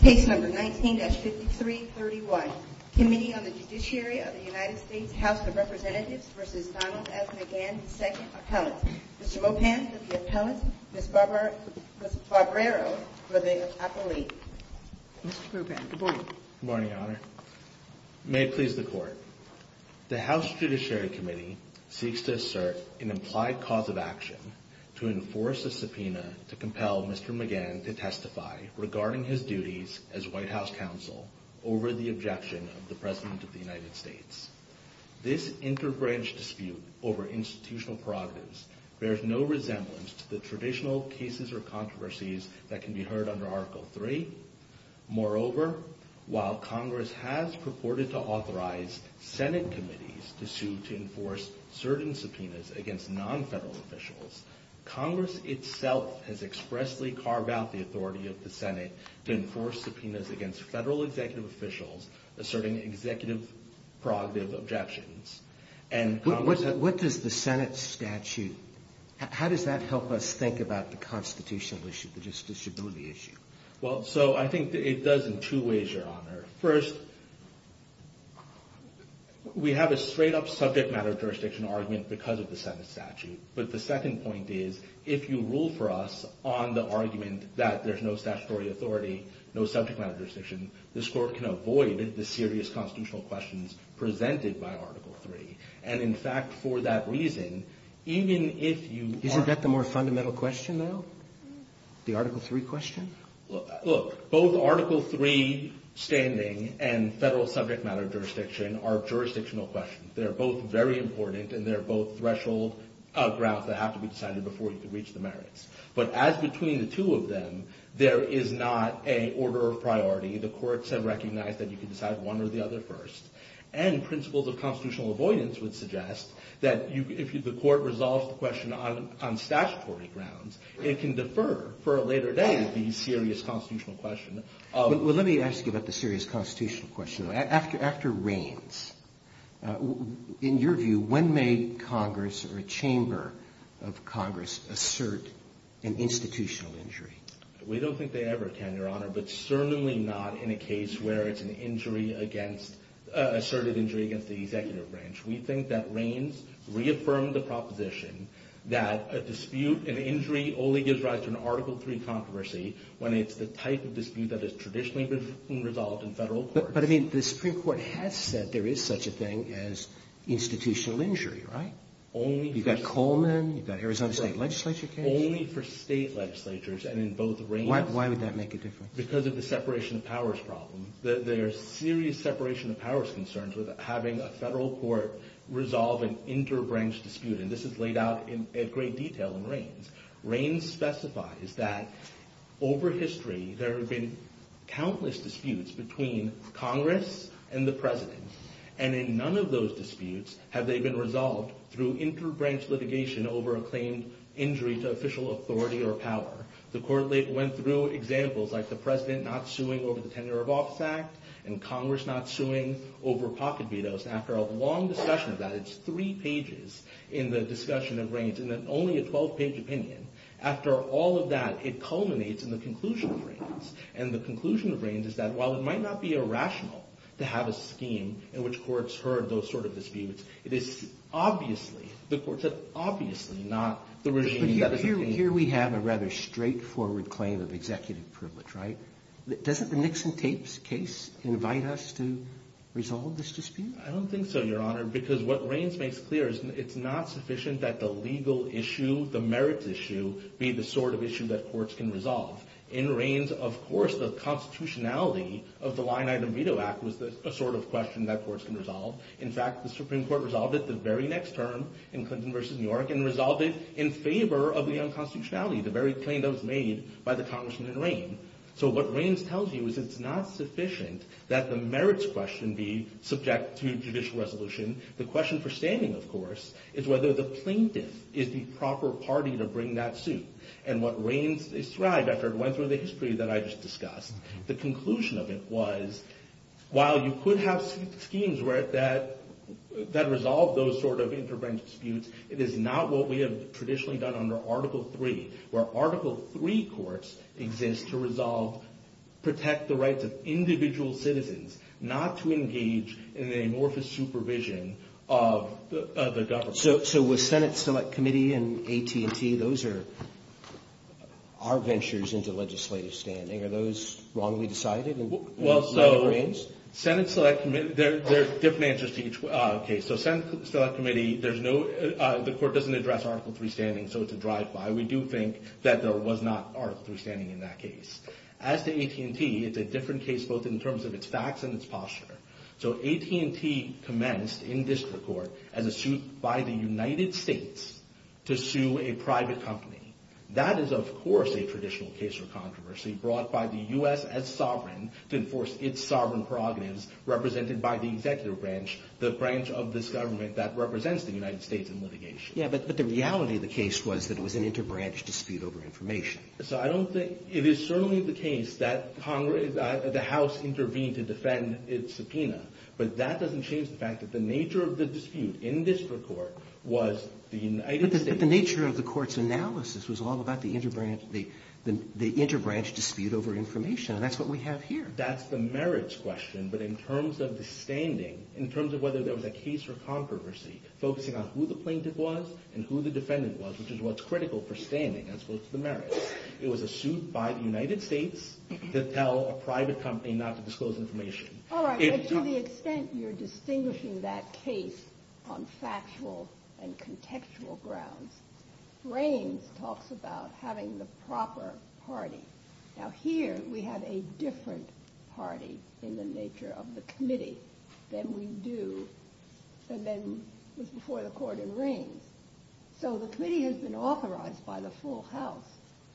Case No. 19-5331, Committee on the Judiciary of the United States House of Representatives v. Donald S. McGahn, II Mr. Mopan, to the Attorney, Ms. Barbero, for the appellee Mr. Mopan, good morning Good morning, Your Honor May it please the Court The House Judiciary Committee seeks to assert an implied cause of action to enforce a subpoena to compel Mr. McGahn to testify regarding his duties as White House Counsel over the objection of the President of the United States. This interbranch dispute over institutional prerogatives bears no resemblance to the traditional cases or controversies that can be heard under Article III. Moreover, while Congress has purported to authorize Senate committees to sue to enforce certain subpoenas against non-federal officials, Congress itself has expressly carved out the authority of the Senate to enforce subpoenas against federal executive officials asserting executive prerogative objections. What does the Senate statute, how does that help us think about the constitutional issue, the disability issue? Well, so I think it does in two ways, Your Honor. First, we have a straight-up subject matter jurisdiction argument because of the Senate statute, but the second point is, if you rule for us on the argument that there's no statutory authority, no subject matter jurisdiction, the Court can avoid the serious constitutional questions presented by Article III. And, in fact, for that reason, even if you... Isn't that the more fundamental question, though? The Article III question? Look, both Article III standing and federal subject matter jurisdiction are jurisdictional questions. They're both very important, and they're both threshold grounds that have to be decided before you can reach the merits. But as between the two of them, there is not an order of priority. The courts have recognized that you can decide one or the other first. And principles of constitutional avoidance would suggest that if the court resolves the question on statutory grounds, it can defer for a later day to the serious constitutional question. Well, let me ask you about the serious constitutional question. After Reins, in your view, when may Congress or a chamber of Congress assert an institutional injury? We don't think they ever tend, Your Honor, but certainly not in a case where it's an asserted injury against the executive branch. We think that Reins reaffirmed the proposition that a dispute, an injury, only gives rise to an Article III controversy when it's the type of dispute that has traditionally been resolved in federal court. But, I mean, the Supreme Court has said there is such a thing as institutional injury, right? Only... You've got Coleman, you've got Arizona State Legislature... Only for state legislatures, and in both Reins... Why would that make a difference? Because of the separation of powers problem. There's serious separation of powers concerns with having a federal court resolve an inter-branch dispute. And this is laid out in great detail in Reins. Reins specifies that over history, there have been countless disputes between Congress and the President. And in none of those disputes have they been resolved through inter-branch litigation over a claim injury to official authority or power. The court went through examples like the President not suing over the Tenure of Office Act, and Congress not suing over pocket vetoes. After a long discussion about it, it's three pages in the discussion of Reins, and then only a 12-page opinion. After all of that, it culminates in the conclusion of Reins. And the conclusion of Reins is that while it might not be irrational to have a scheme in which courts heard those sort of disputes, it is obviously, the courts have obviously not... Here we have a rather straightforward claim of executive privilege, right? Doesn't the Nixon tapes case invite us to resolve this dispute? I don't think so, Your Honor, because what Reins makes clear is it's not sufficient that the legal issue, the merits issue, be the sort of issue that courts can resolve. In Reins, of course, the constitutionality of the Line Item Veto Act was a sort of question that courts can resolve. In fact, the Supreme Court resolved it the very next term in Clinton v. New York, and resolved it in favor of the unconstitutionality, the very claim that was made by the Congressman in Reins. So what Reins tells you is it's not sufficient that the merits question be subject to judicial resolution. The question for standing, of course, is whether the plaintiff is the proper party to bring that suit. And what Reins described after it went through the history that I just discussed, the conclusion of it was, while you could have schemes that resolve those sort of intervention disputes, it is not what we have traditionally done under Article III, where Article III courts exist to resolve, protect the rights of individual citizens, not to engage in an amorphous supervision of the government. So with Senate Select Committee and AT&T, those are our ventures into legislative standing. Are those wrongly decided? Well, so Senate Select Committee, there are different answers to each case. So Senate Select Committee, the court doesn't address Article III standing, so it's a drive-by. We do think that there was not Article III standing in that case. As to AT&T, it's a different case both in terms of its facts and its posture. So AT&T commenced in district court as a suit by the United States to sue a private company. That is, of course, a traditional case of controversy brought by the U.S. as sovereign to enforce its sovereign prerogatives, represented by the executive branch, the branch of this government that represents the United States in litigation. Yeah, but the reality of the case was that it was an interbranch dispute over information. So I don't think – it is certainly the case that the House intervened to defend its subpoena, but that doesn't change the fact that the nature of the dispute in district court was the United States – But the nature of the court's analysis was all about the interbranch dispute over information, and that's what we have here. That's the merits question, but in terms of the standing, in terms of whether there was a case for controversy, focusing on who the plaintiff was and who the defendant was, which is what's critical for standing as opposed to the merits, it was a suit by the United States to tell a private company not to disclose information. All right, but to the extent you're distinguishing that case on factual and contextual grounds, Raines talks about having the proper party. Now, here we have a different party in the nature of the committee than we do – than was before the court in Raines. So the committee has been authorized by the full House.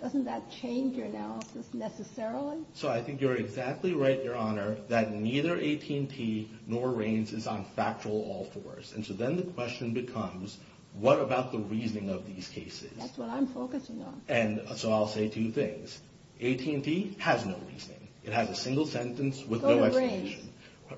Doesn't that change your analysis necessarily? So I think you're exactly right, Your Honor, that neither AT&T nor Raines is on factual all fours. And so then the question becomes, what about the reasoning of these cases? That's what I'm focusing on. And so I'll say two things. AT&T has no reasoning. It has a single sentence with no explanation.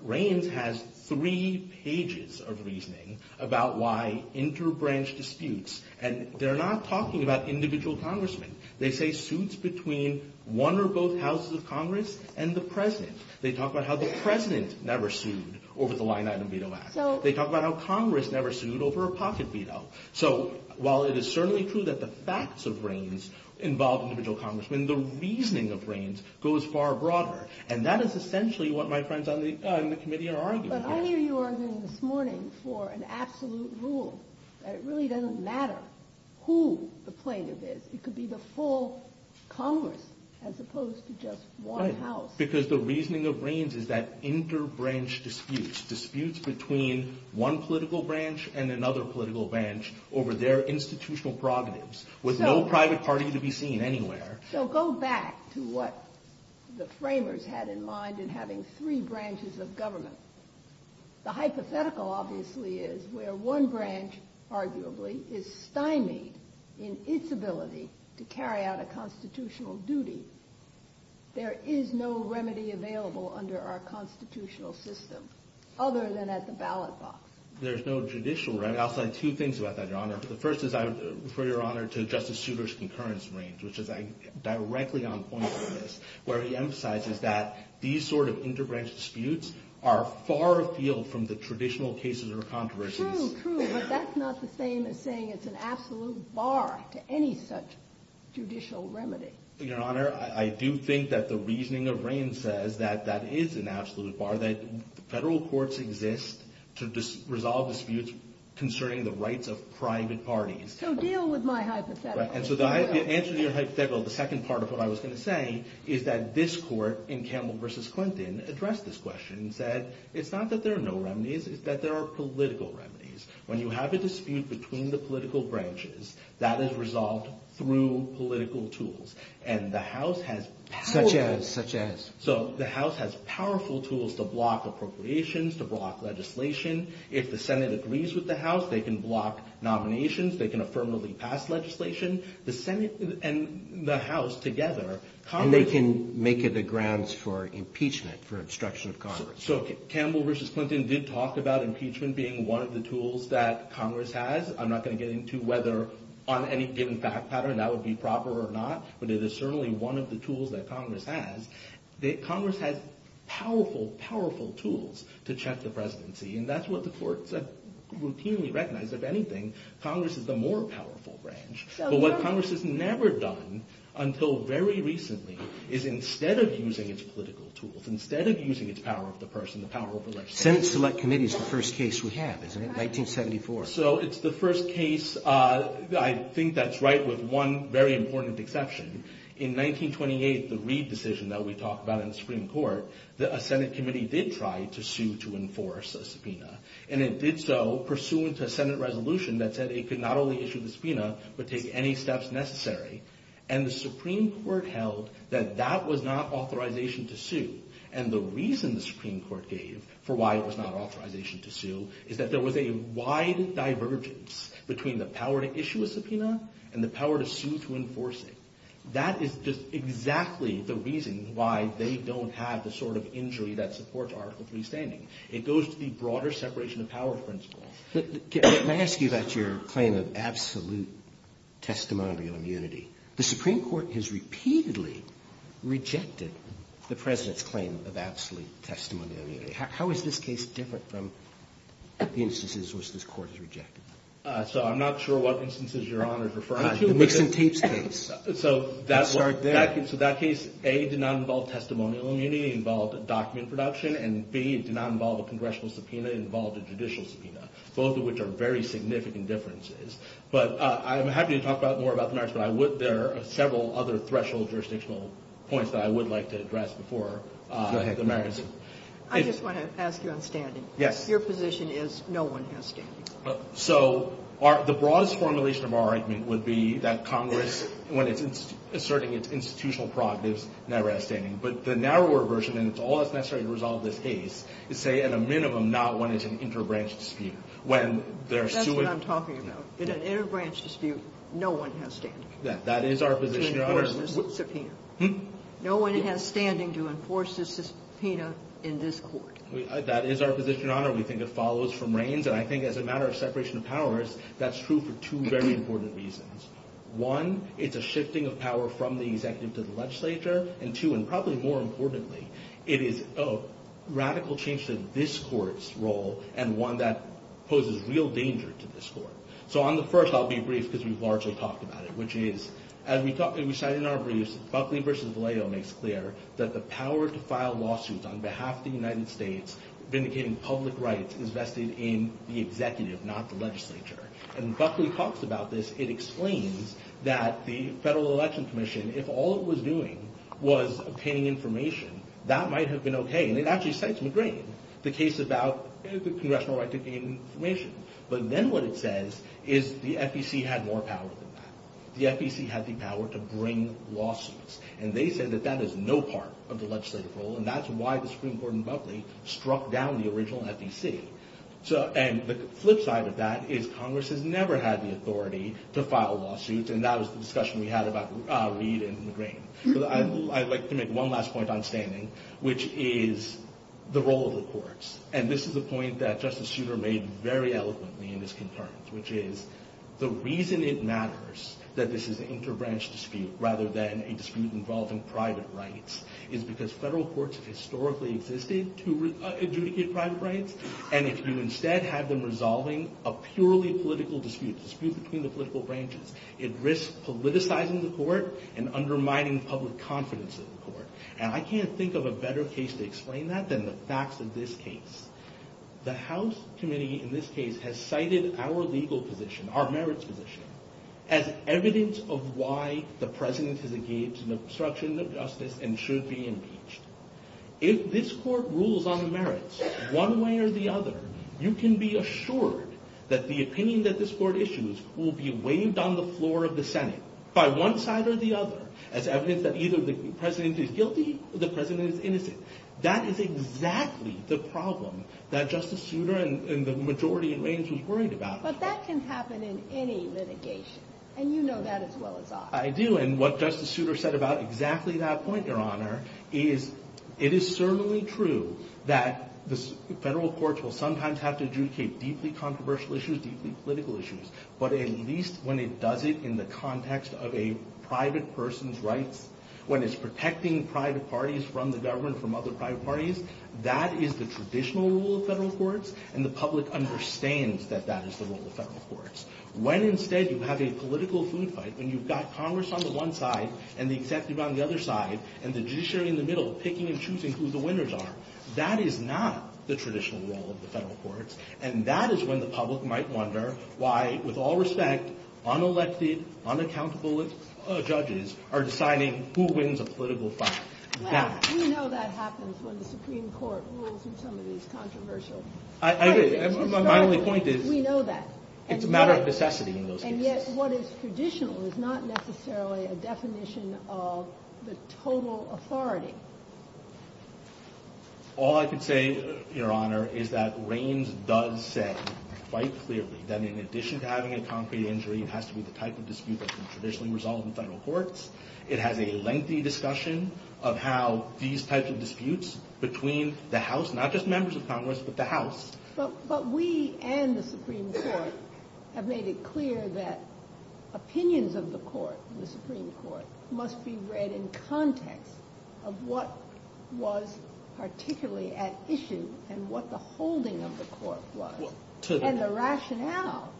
Raines has three pages of reasoning about why interbranch disputes – And they're not talking about individual congressmen. They say suits between one or both houses of Congress and the president. They talk about how the president never sued over the Line Item Veto Act. They talk about how Congress never sued over a pocket veto. So while it is certainly true that the facts of Raines involve individual congressmen, the reasoning of Raines goes far broader. But I hear you arguing this morning for an absolute rule that it really doesn't matter who the plaintiff is. It could be the full Congress as opposed to just one house. Right, because the reasoning of Raines is that interbranch disputes, disputes between one political branch and another political branch over their institutional providence with no private party to be seen anywhere. So go back to what the framers had in mind in having three branches of government. The hypothetical, obviously, is where one branch, arguably, is stymied in its ability to carry out a constitutional duty. There is no remedy available under our constitutional system other than at the ballot box. There's no judicial remedy. I'll say two things about that, Your Honor. The first is, for Your Honor, to Justice Souter's concurrence in Raines, which is directly on point for this, where he emphasizes that these sort of interbranch disputes are far afield from the traditional cases or controversies. True, true, but that's not the same as saying it's an absolute bar to any such judicial remedy. Your Honor, I do think that the reasoning of Raines says that that is an absolute bar, that federal courts exist to resolve disputes concerning the rights of private parties. So deal with my hypothetical. So the answer to your hypothetical, the second part of what I was going to say, is that this court in Campbell v. Clinton addressed this question and said, it's not that there are no remedies, it's that there are political remedies. When you have a dispute between the political branches, that is resolved through political tools. And the House has powerful tools. Such as? So the House has powerful tools to block appropriations, to block legislation. If the Senate agrees with the House, they can block nominations, they can affirmatively pass legislation. The Senate and the House together, Congress... And they can make it the grounds for impeachment, for obstruction of Congress. So Campbell v. Clinton did talk about impeachment being one of the tools that Congress has. I'm not going to get into whether on any given fact pattern that would be proper or not, but it is certainly one of the tools that Congress has. Congress has powerful, powerful tools to check the presidency. And that's what the courts have routinely recognized. If anything, Congress is a more powerful branch. But what Congress has never done, until very recently, is instead of using its political tools, instead of using its power of the person, the power of the legislature... Senate Select Committee is the first case we have, isn't it? 1974. So it's the first case. I think that's right with one very important exception. In 1928, the Reid decision that we talked about in the Supreme Court, a Senate committee did try to sue to enforce a subpoena. And it did so pursuant to a Senate resolution that said it could not only issue the subpoena, but take any steps necessary. And the Supreme Court held that that was not authorization to sue. The Supreme Court held that there was a wide divergence between the power to issue a subpoena and the power to sue to enforce it. That is just exactly the reason why they don't have the sort of injury that supports our complete standing. It goes to the broader separation of power principle. Can I ask you about your claim of absolute testimonial immunity? The Supreme Court has repeatedly rejected the president's claim of absolute testimonial immunity. How is this case different from the instances in which this court has rejected it? So I'm not sure what instances you're referring to. So that case, A, did not involve testimonial immunity. It involved a document production. And B, it did not involve a congressional subpoena. It involved a judicial subpoena, both of which are very significant differences. But I'm happy to talk more about the narrative. There are several other threshold jurisdictional points that I would like to address before the merits. I just want to ask you on standing. Yes. Your position is no one has standing. So the broadest formulation of our argument would be that Congress, when it's asserting its institutional product, is never outstanding. But the narrower version, and it's all that's necessary to resolve this case, is say at a minimum not wanting an interbranch dispute. That's what I'm talking about. In an interbranch dispute, no one has standing. That is our position. To enforce the subpoena. No one has standing to enforce the subpoena in this court. That is our position, Your Honor. We think it follows from Raines. And I think as a matter of separation of powers, that's true for two very important reasons. One, it's a shifting of power from the executive to the legislature. And two, and probably more importantly, it is a radical change to this court's role and one that poses real danger to this court. So on the first, I'll be brief because we've largely talked about it, which is, as we said in our briefs, Buckley v. Valeo makes clear that the power to file lawsuits on behalf of the United States vindicating public rights is vested in the executive, not the legislature. And Buckley talks about this. It explains that the Federal Election Commission, if all it was doing was obtaining information, that might have been okay. And it actually states in the Green the case about the congressional right to obtain information. But then what it says is the FEC had more power than that. The FEC had the power to bring lawsuits. And they said that that is no part of the legislative role, and that's why the Supreme Court in Buckley struck down the original FEC. And the flip side of that is Congress has never had the authority to file lawsuits, and that was the discussion we had about Lee and Green. I'd like to make one last point outstanding, which is the role of the courts. And this is a point that Justice Souter made very eloquently in this concern, which is the reason it matters that this is an interbranch dispute rather than a dispute involving private rights is because federal courts historically existed to adjudicate private rights. And if you instead have them resolving a purely political dispute, a dispute between the political branches, it risks politicizing the court and undermining public confidence in the court. And I can't think of a better case to explain that than the facts of this case. The House Committee in this case has cited our legal position, our merits position, as evidence of why the president has engaged in obstruction of justice and should be impeached. If this court rules on merits one way or the other, you can be assured that the opinion that this court issues will be waived on the floor of the Senate by one side or the other as evidence that either the president is guilty or the president is innocent. That is exactly the problem that Justice Souter and the majority of agents worried about. But that can happen in any litigation, and you know that as well as I. I do, and what Justice Souter said about exactly that point, Your Honor, is it is certainly true that the federal courts will sometimes have to adjudicate deeply controversial issues, deeply political issues, but at least when it does it in the context of a private person's rights, when it's protecting private parties from the government, from other private parties, that is the traditional rule of federal courts, and the public understands that that is the rule of federal courts. When instead you have a political food fight and you've got Congress on the one side and the executive on the other side and the judiciary in the middle picking and choosing who the winners are, that is not the traditional rule of the federal courts, and that is when the public might wonder why, with all respect, unelected, unaccountable judges are deciding who wins a political fight. We know that happens when the Supreme Court rules that somebody is controversial. I did. My only point is it's a matter of necessity in those cases. And yet what is traditional is not necessarily a definition of the total authority. All I can say, Your Honor, is that Reins does say quite clearly that in addition to having a concrete injury, it has to be the type of dispute that is traditionally resolved in federal courts. It has a lengthy discussion of how these types of disputes between the House, not just members of Congress, but the House. But we and the Supreme Court have made it clear that opinions of the court, the Supreme Court, must be read in context of what was particularly at issue and what the holding of the court was. And the rationale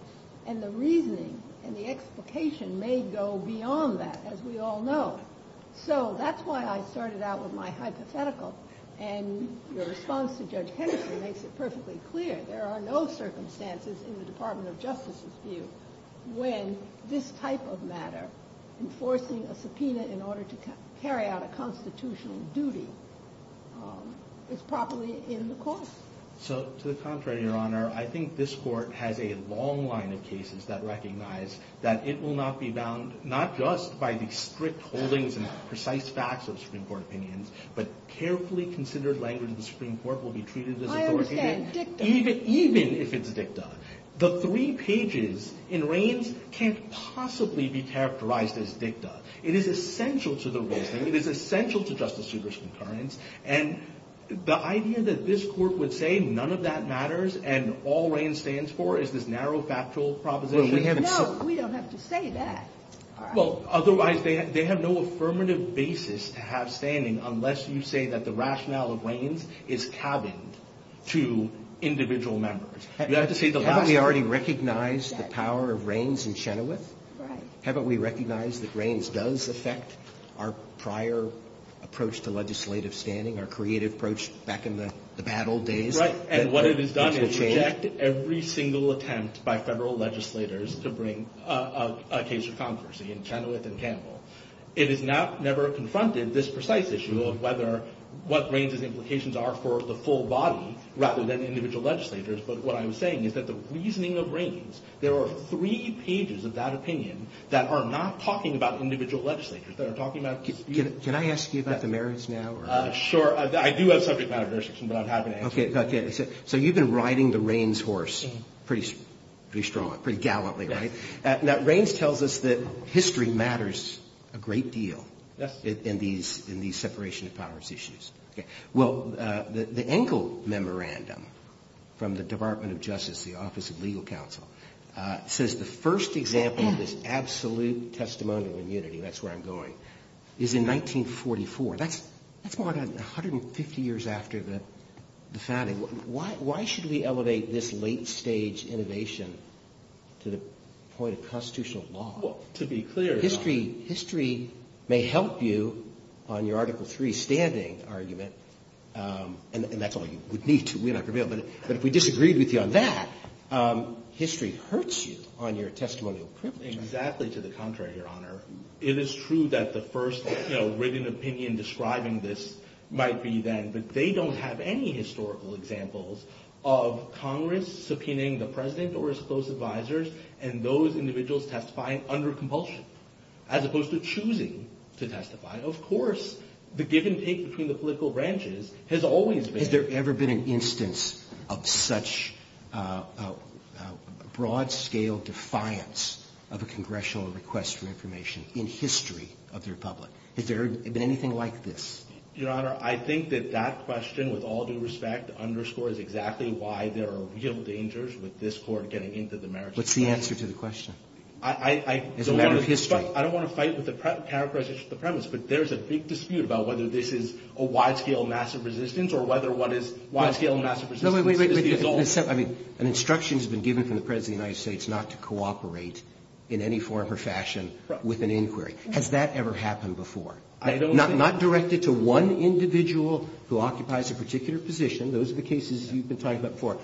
and the reasoning and the explication may go beyond that, as we all know. So that's why I started out with my hypothetical, and your response to Judge Henderson makes it perfectly clear there are no circumstances in the Department of Justice's view when this type of matter, enforcing a subpoena in order to carry out a constitutional duty, is properly in the court. So, to the contrary, Your Honor, I think this court has a long line of cases that recognize that it will not be bound, not just by the strict holdings and precise facts of Supreme Court opinions, but carefully considered language of the Supreme Court will be treated as a court opinion, even if it's dicta. The three pages in Reins can't possibly be characterized as dicta. It is essential to the role, and it is essential to Justice Seibert's compliance, and the idea that this court would say none of that matters and all Reins stands for is this narrow factual proposition. No, we don't have to say that. Well, otherwise they have no affirmative basis to have standing unless you say that the rationale of Reins is tabbed to individual members. Haven't we already recognized the power of Reins and Chenoweth? Right. Haven't we recognized that Reins does affect our prior approach to legislative standing, our creative approach back in the battle days? Right, and what it has done is reject every single attempt by federal legislators to bring a case to Congress, again, Chenoweth and Campbell. It has never confronted this precise issue of what Reins and implications are for the full body rather than individual legislators, but what I'm saying is that the reasoning of Reins, there are three pages of that opinion that are not talking about individual legislators. Can I ask you about the marriage now? Sure, I do have subject matter questions, but I'm happy to answer them. Okay, so you've been riding the Reins horse pretty strongly, pretty gallantly, right? Reins tells us that history matters a great deal in these separation of powers issues. Well, the Engel Memorandum from the Department of Justice, the Office of Legal Counsel, says the first example of this absolute testimony of immunity, that's where I'm going, is in 1944. That's 150 years after the founding. Why should we elevate this late stage innovation to the point of constitutional law? History may help you on your Article III standing argument, and that's all you would need to reveal, but if we disagreed with you on that, history hurts you on your testimony. Exactly to the contrary, Your Honor. It is true that the first written opinion describing this might be that they don't have any historical examples of Congress subpoenaing the President or his close advisors and those individuals testifying under compulsion, as opposed to choosing to testify. Of course, the give-and-take between the political branches has always been... Has there ever been an instance of such a broad-scale defiance of a congressional request for information in history of the Republic? Has there ever been anything like this? Your Honor, I think that that question, with all due respect, underscores exactly why there are real dangers with this Court getting into the merits of the case. What's the answer to the question? I don't want to fight with the counter-questions to the premise, but there's a big dispute about whether this is a wide-scale massive resistance or whether one is... Wait, wait, wait. An instruction has been given from the President of the United States not to cooperate in any form or fashion with an inquiry. Has that ever happened before? Not directly to one individual who occupies a particular position. Those are the cases you've been talking about before,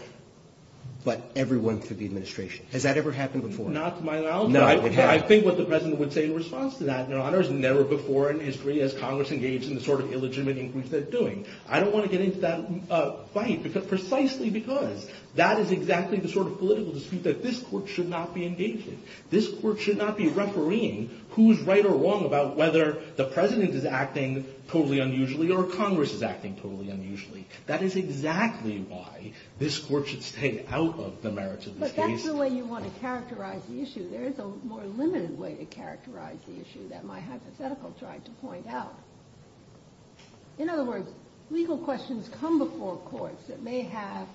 but everyone through the administration. Has that ever happened before? Not to my knowledge. No, it hasn't. I think what the President would say in response to that, Your Honor, has never before in history has Congress engaged in the sort of illegitimate inquiries they're doing. I don't want to get into that fight precisely because that is exactly the sort of political dispute that this Court should not be engaging. This Court should not be refereeing who's right or wrong about whether the President is acting totally unusually or Congress is acting totally unusually. That is exactly why this Court should stay out of the merits of this case. But that's the way you want to characterize the issue. There is a more limited way to characterize the issue that my hypothetical tried to point out. In other words, legal questions come before courts that may have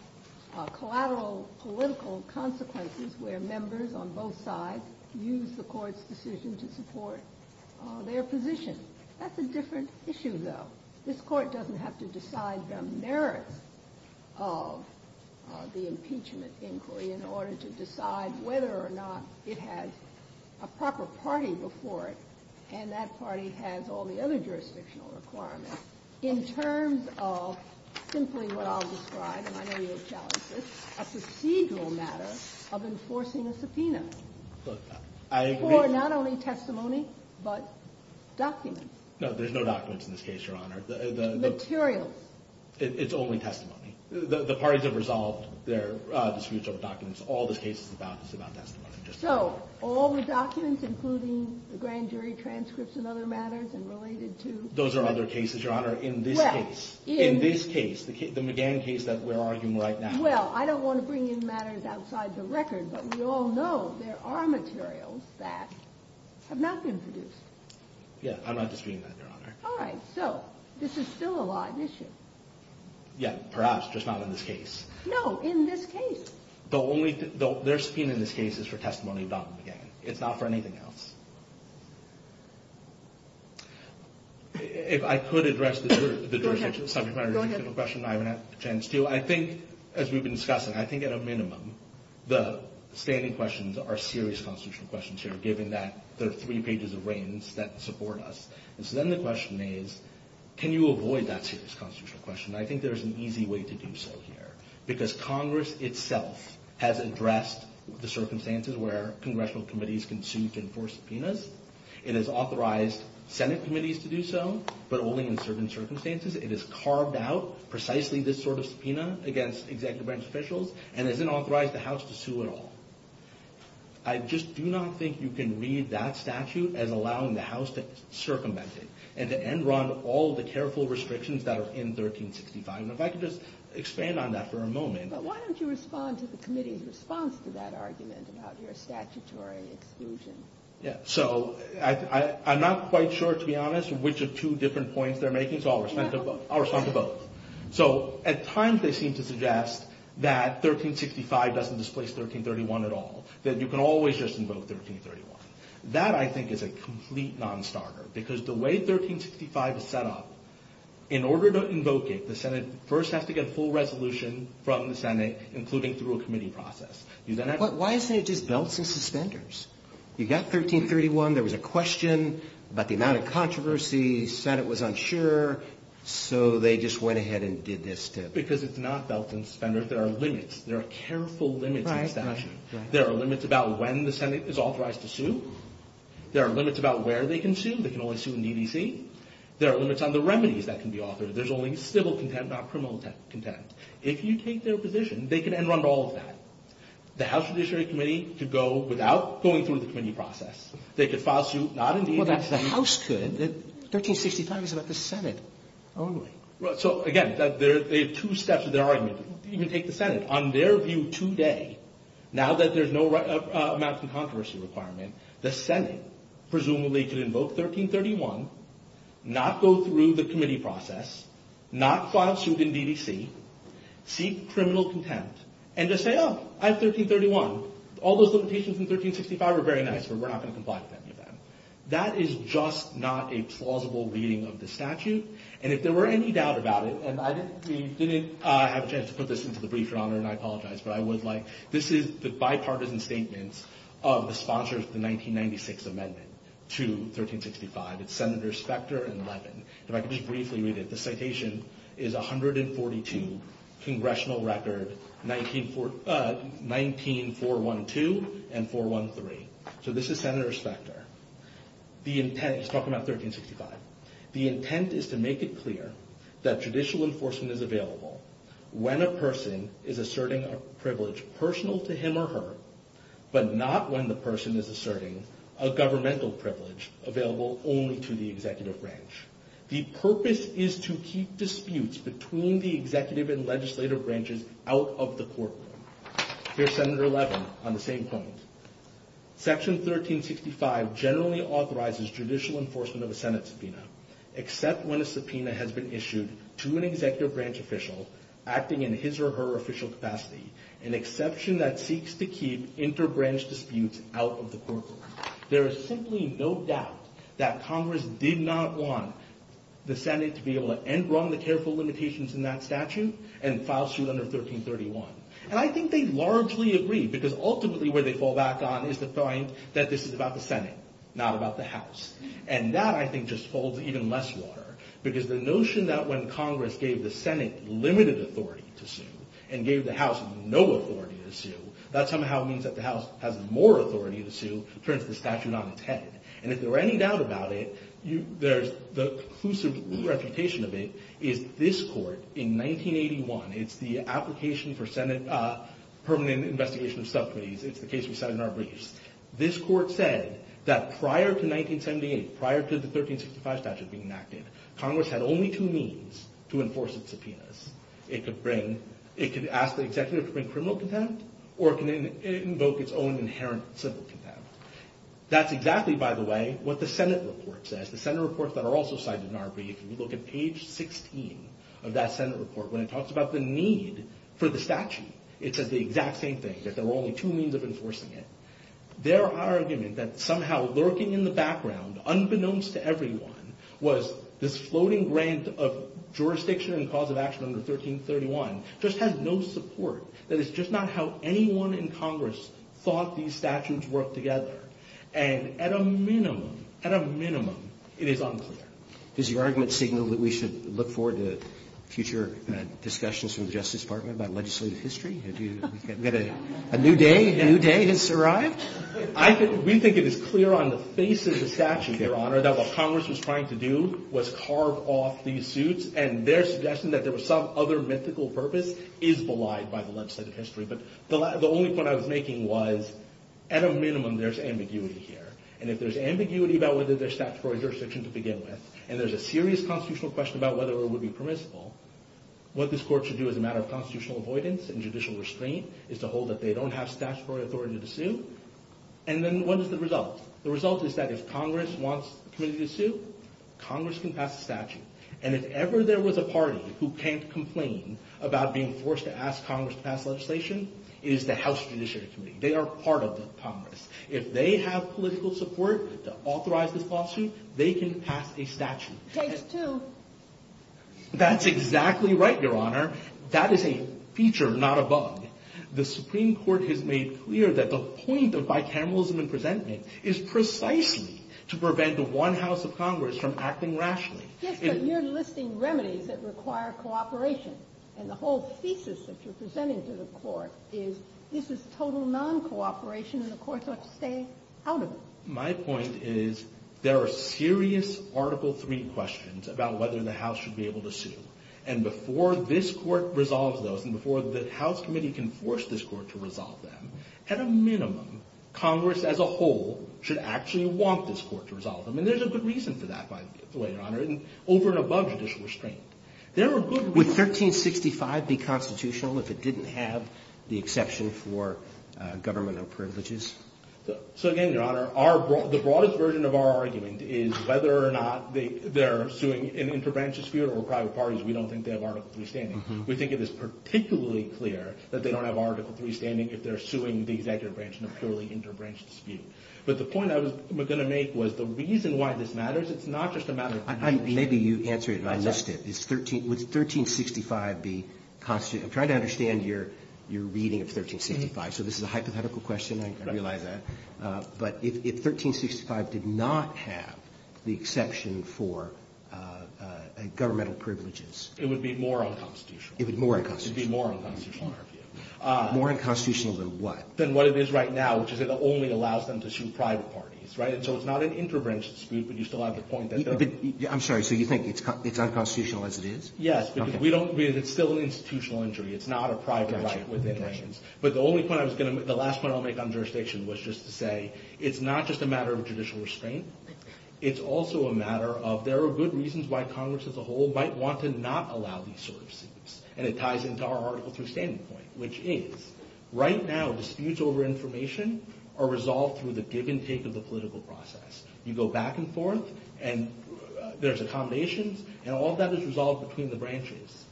collateral political consequences where members on both sides use the Court's decision to support their position. That's a different issue, though. This Court doesn't have to decide the merits of the impeachment inquiry in order to decide whether or not it has a proper party before it and that party has all the other jurisdictional requirements. In terms of simply what I'll describe, and I know you'll challenge this, a procedural matter of enforcing a subpoena for not only testimony but documents. No, there's no documents in this case, Your Honor. Materially. It's only testimony. The parties have resolved their dispute over documents. All the case is about testimony. So all the documents, including the grand jury transcripts and other matters and related to— Those are other cases, Your Honor, in this case. In this case, the McGann case that we're arguing right now. Well, I don't want to bring in matters outside the record, but we all know there are materials that have not been produced. Yes, I'm not disputing that, Your Honor. All right, so this is still a law issue. Yes, perhaps, just not in this case. No, in this case. Their subpoena in this case is for testimony about the McGann. It's not for anything else. If I could address the jurisdictional subpoena, Your Honor, I have a question I haven't had a chance to. I think, as we've been discussing, I think, at a minimum, the standing questions are serious constitutional questions here, given that there are three pages of reigns that support us. And so then the question is, can you avoid that serious constitutional question? I think there's an easy way to do so here, because Congress itself has addressed the circumstances where congressional committees can sue to enforce subpoenas. It has authorized Senate committees to do so, but only in certain circumstances. It has carved out precisely this sort of subpoena against executive branch officials and has not authorized the House to sue at all. I just do not think you can read that statute as allowing the House to circumvent it and to end run all the careful restrictions that are in 1365. And if I could just expand on that for a moment. But why don't you respond to the committee's response to that argument about their statutory exclusion? So I'm not quite sure, to be honest, which of two different points they're making, so I'll respond to both. So at times they seem to suggest that 1365 doesn't displace 1331 at all, that you can always just invoke 1331. That, I think, is a complete non-starter, because the way 1365 is set up, in order to invoke it, the Senate first has to get full resolution from the Senate, including through a committee process. But why is it just belts and suspenders? You've got 1331, there was a question about the amount of controversy, the Senate was unsure, so they just went ahead and did this. Because it's not belts and suspenders. There are limits. There are careful limits in statute. There are limits about when the Senate is authorized to sue. There are limits about where they can sue. They can only sue in EDC. There are limits on the remedies that can be offered. There's only civil contempt, not criminal contempt. If you take their position, they can end on all of that. The House Judiciary Committee could go without going through the committee process. They could file a suit not in EDC. Well, the House could. 1365 is set up by the Senate. So, again, there are two steps. You can take the Senate. On their view today, now that there's no amounts of controversy requirement, the Senate presumably could invoke 1331, not go through the committee process, not file a suit in EDC, seek criminal contempt, and just say, oh, I have 1331. All those limitations in 1365 are very nice, but we're not going to comply with any of them. That is just not a plausible reading of the statute. And if there were any doubt about it, and I didn't have a chance to put this into the brief, Your Honor, and I apologize, but this is the bipartisan statement of the sponsors of the 1996 amendment to 1365, Senator Specter and Levin. If I could just briefly read it. The citation is 142, congressional record 19-412 and 413. So this is Senator Specter. He's talking about 1365. The intent is to make it clear that judicial enforcement is available when a person is asserting a privilege personal to him or her, but not when the person is asserting a governmental privilege available only to the executive branch. The purpose is to keep disputes between the executive and legislative branches out of the courtroom. Here's Senator Levin on the same point. Section 1365 generally authorizes judicial enforcement of a Senate subpoena, except when a subpoena has been issued to an executive branch official acting in his or her official capacity, an exception that seeks to keep inter-branch disputes out of the courtroom. There is simply no doubt that Congress did not want the Senate to be able to end wrongly careful limitations in that statute and file suit under 1331. And I think they largely agree because ultimately where they fall back on is the point that this is about the Senate, not about the House. And that, I think, just holds even less water, because the notion that when Congress gave the Senate limited authority to sue and gave the House no authority to sue, that somehow means that the House has more authority to sue, turns the statute on its head. And if there are any doubts about it, the conclusive reputation of it is this court in 1981. It's the application for permanent investigation of subpoenas. It's the case we cited in our briefs. This court said that prior to 1978, prior to the 1365 statute being enacted, Congress had only two means to enforce its subpoenas. It could ask the executive to bring criminal contempt, or it can invoke its own inherent civil contempt. That's exactly, by the way, what the Senate report says. The Senate report that are also cited in our briefs, if you look at page 16 of that Senate report, when it talks about the need for the statute, it says the exact same thing, that there were only two means of enforcing it. Their argument that somehow lurking in the background, unbeknownst to everyone, was this floating grant of jurisdiction and cause of action under 1331, just has no support. That it's just not how anyone in Congress thought these statutes worked together. And at a minimum, at a minimum, it is unclear. Does your argument signal that we should look forward to future discussions with the Justice Department about legislative history? A new day has arrived? We think it is clear on the faces of the statute, Your Honor, that what Congress was trying to do was carve off these suits, and their suggestion that there was some other mythical purpose is belied by the legislative history. But the only point I was making was, at a minimum, there's ambiguity here. And if there's ambiguity about whether there's statutory jurisdiction to begin with, and there's a serious constitutional question about whether it would be permissible, what this court should do as a matter of constitutional avoidance and judicial restraint is to hold that they don't have statutory authority to sue. And then what is the result? The result is that if Congress wants to sue, Congress can pass a statute. And if ever there was a party who can't complain about being forced to ask Congress to pass legislation, it is the House Judiciary Committee. They are part of the Congress. If they have political support to authorize the lawsuit, they can pass a statute. Page 2. That's exactly right, Your Honor. That is a feature, not a bug. The Supreme Court has made clear that the point of bicameralism in presenting is precisely to prevent the one House of Congress from acting rationally. Yes, but you're listing remedies that require cooperation. And the whole thesis of presenting to the court is, this is total non-cooperation, and the court has to stay out of it. My point is, there are serious Article III questions about whether the House should be able to sue. And before this court resolves those, and before the House Committee can force this court to resolve them, at a minimum, Congress as a whole should actually want this court to resolve them. And there's a good reason to that, by the way, Your Honor, and over and above judicial restraint. There are good reasons. Would 1365 be constitutional if it didn't have the exception for governmental privileges? So again, Your Honor, the broadest version of our argument is whether or not they're suing an interbranch dispute or a private party, we don't think they have Article III standing. We think it is particularly clear that they don't have Article III standing if they're suing the executive branch in a purely interbranch dispute. But the point I was going to make was, the reason why this matters, it's not just a matter of... Maybe you can answer it, and I missed it. Would 1365 be constitutional? I'm trying to understand your reading of 1365. So this is a hypothetical question, I realize that. But if 1365 did not have the exception for governmental privileges... It would be more unconstitutional. It would be more unconstitutional. More unconstitutional than what? Than what it is right now, which is it only allows them to sue private parties. So it's not an interbranch dispute, but you still have the point that... I'm sorry, so you think it's unconstitutional as it is? Yes, because it's still an institutional injury. It's not a private right. But the last point I'll make on jurisdiction was just to say, it's not just a matter of judicial restraint. It's also a matter of, there are good reasons why Congress as a whole might want to not allow these sorts of disputes. And it ties into our Article III standing point, which is, right now disputes over information are resolved through the give and take of the political process. You go back and forth, and there's accommodations, and all that is resolved between the branches.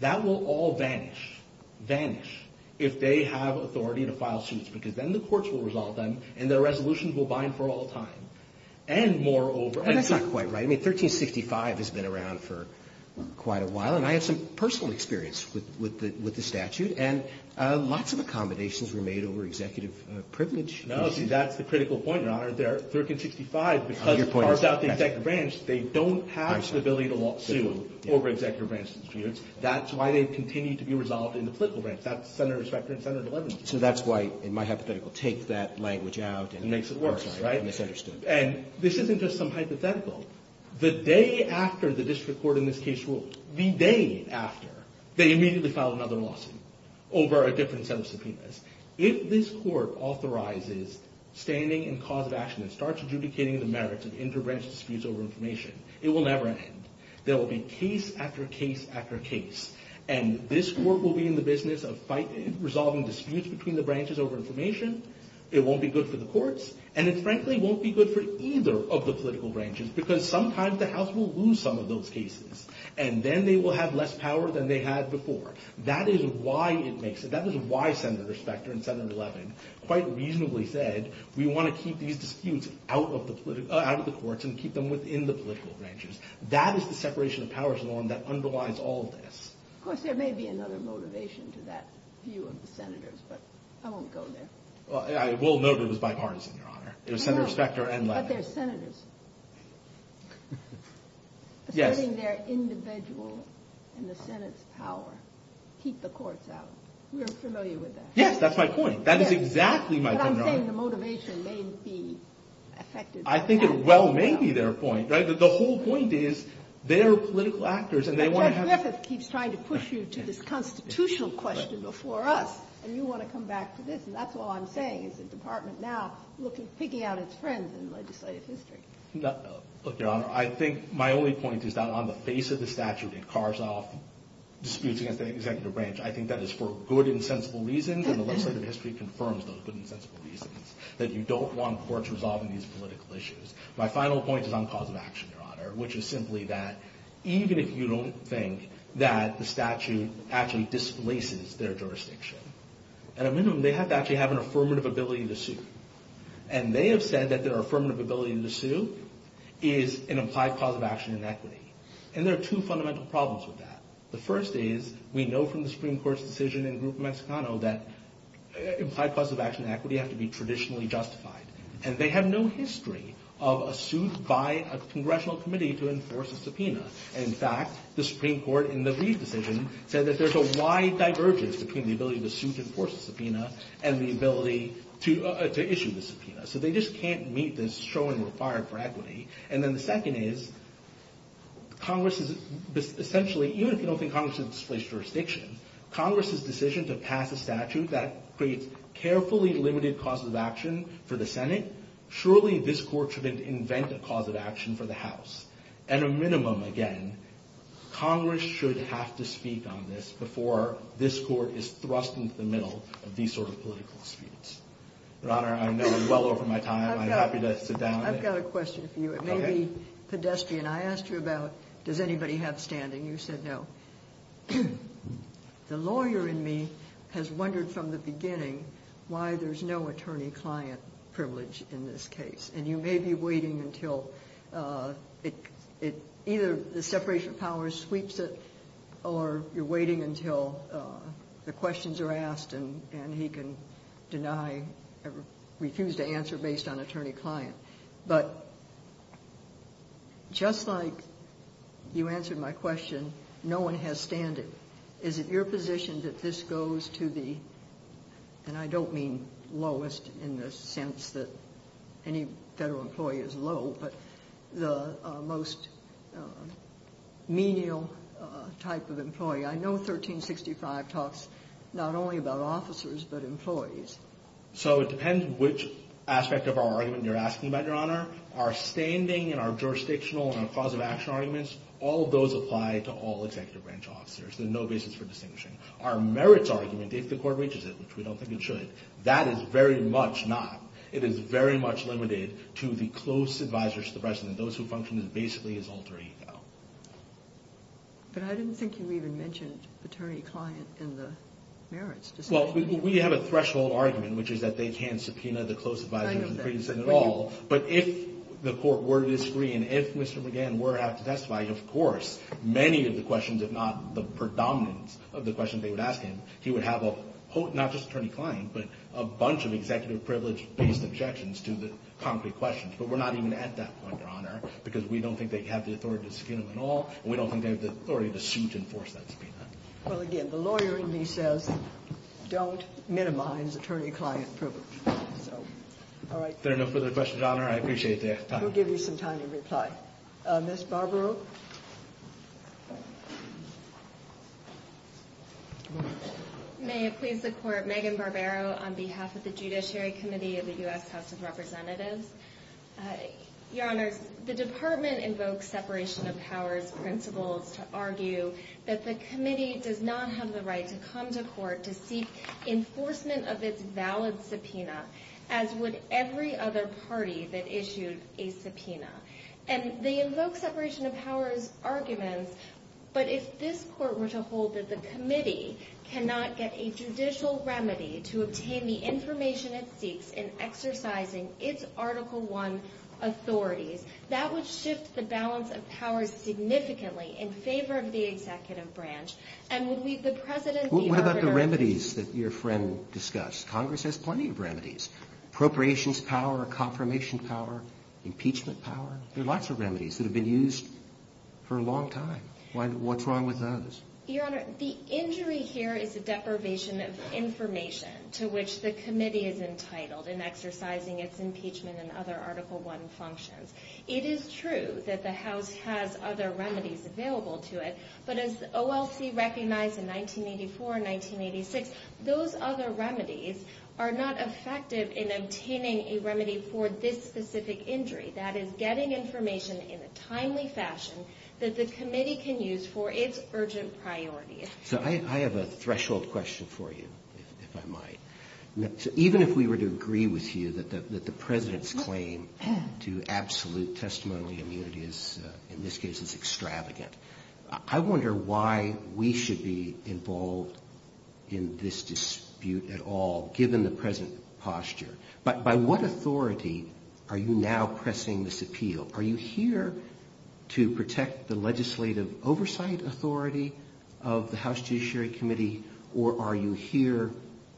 That will all vanish if they have authority to file suits, because then the courts will resolve them, and their resolutions will bind for all time. And moreover... And that's not quite right. I mean, 1365 has been around for quite a while, and I have some personal experience with the statute, and lots of accommodations were made over executive privilege. No, see, that's the critical point, Your Honor. 1365, because it bars out the executive branch, they don't have the ability to lawsuit over executive branch disputes. That's why they continue to be resolved in the political branch. That's Senate Respect and Senate 11. So that's why, in my hypothetical, it takes that language out and makes it worse, right? And this isn't just some hypothetical. The day after the district court in this case rules, the day after, they immediately file another lawsuit over a different set of subpoenas. If this court authorizes standing and cause of action and starts adjudicating the merits of inter-branch disputes over information, it will never end. There will be case after case after case, and this court will be in the business of resolving disputes between the branches over information. It won't be good for the courts, and it frankly won't be good for either of the political branches, because sometimes the House will lose some of those cases, and then they will have less power than they had before. That is why it makes it... That is why Senate Respect and Senate 11 quite reasonably said, we want to keep these disputes out of the courts and keep them within the political branches. That is the separation of powers law that underlies all of this. Of course, there may be another motivation to that view of the Senators, but I won't go there. I will note it was bipartisan, Your Honor. There's Senator Specter and... But they're Senators. Yes. But they're individuals in the Senate's power to keep the courts out. Yes, that's my point. That is exactly my point, Your Honor. But I'm saying the motivation may be affected by that. I think it well may be their point. The whole point is they're political actors, and they want to have... But Judge Griffith keeps trying to push you to this constitutional question before us, and you want to come back to this, and that's all I'm saying is the Department now is picking out its friends in legislative history. Look, Your Honor, I think my only point is not on the face of the statute that cars off disputes against the executive branch. I think that is for good and sensible reasons, and I think that legislative history confirms those good and sensible reasons that you don't want courts resolving these political issues. My final point is on cause of action, Your Honor, which is simply that even if you don't think that the statute actually displaces their jurisdiction, at a minimum they have to actually have an affirmative ability to sue, and they have said that their affirmative ability to sue is an implied cause of action in equity, and there are two fundamental problems with that. The first is we know from the Supreme Court's decision in Grupo Mexicano that implied cause of action in equity has to be traditionally justified, and they have no history of a suit by a congressional committee to enforce a subpoena. In fact, the Supreme Court in the Reeves decision said that there's a wide divergence between the ability of the suit to enforce a subpoena and the ability to issue the subpoena, so they just can't meet the strong requirement for equity. And then the second is Congress is essentially, even if you don't think Congress has displaced jurisdiction, Congress's decision to pass a statute that creates carefully limited causes of action for the Senate, surely this Court should invent a cause of action for the House. At a minimum, again, Congress should have to speak on this before this Court is thrust into the middle of these sort of political disputes. Your Honor, I'm well over my time. I'm happy to sit down. I've got a question for you. It may be pedestrian. I asked you about does anybody have standing. You said no. The lawyer in me has wondered from the beginning why there's no attorney-client privilege in this case, and you may be waiting until either the separation of powers sweeps it or you're waiting until the questions are asked and he can deny or refuse to answer based on attorney-client. But just like you answered my question, no one has standing. Is it your position that this goes to the, and I don't mean lowest in the sense that any federal employee is low, but the most menial type of employee? I know 1365 talks not only about officers but employees. So it depends which aspect of our argument you're asking about, Your Honor. Our standing and our jurisdictional and our cause of action arguments, all of those apply to all executive branch officers. There's no basis for distinguishing. Our merits argument, if the court reaches it, which we don't think it should, that is very much not. It is very much limited to the close advisors to the President, those who function basically as alter ego. But I didn't think you even mentioned attorney-client and the merits. Well, we have a threshold argument, which is that they can't subpoena the close advisor of the President at all. I understand. But if the court were to disagree and if Mr. McGann were to have to testify, of course, many of the questions, if not the predominance of the questions they would ask him, he would have a whole, not just attorney-client, but a bunch of executive privilege-based objections to the concrete questions. But we're not even at that point, Your Honor, because we don't think they have the authority to subpoena him at all, and we don't think they have the authority to suit and enforce that. Well, again, the lawyer in me says, don't minimize attorney-client privilege. There are no further questions, Your Honor. I appreciate the time. We'll give you some time to reply. Ms. Barbaro? May I please support Megan Barbaro on behalf of the Judiciary Committee of the U.S. House of Representatives? Your Honor, the Department invokes separation of powers principles to argue that the committee does not have the right to come to court to seek enforcement of its valid subpoena, as would every other party that issues a subpoena. And they invoke separation of powers arguments, but if this Court were to hold that the committee cannot get a judicial remedy to obtain the information it seeks in exercising its Article I authorities, that would shift the balance of power significantly in favor of the executive branch. And would we, the President, be able to... What about the remedies that your friend discussed? Congress has plenty of remedies. Appropriations power, confirmation power, impeachment power. There are lots of remedies that have been used for a long time. What's wrong with those? Your Honor, the injury here is a deprivation of information to which the committee is entitled in exercising its impeachment and other Article I functions. It is true that the House has other remedies available to it, but as OLC recognized in 1984 and 1986, those other remedies are not effective in obtaining a remedy for this specific injury, that is, getting information in a timely fashion that the committee can use for its urgent priorities. I have a threshold question for you, if I might. Even if we were to agree with you that the President's claim to absolute testimony immunity in this case is extravagant, I wonder why we should be involved in this dispute at all, given the President's posture. By what authority are you now pressing this appeal? Are you here to protect the legislative oversight authority of the House Judiciary Committee, or are you here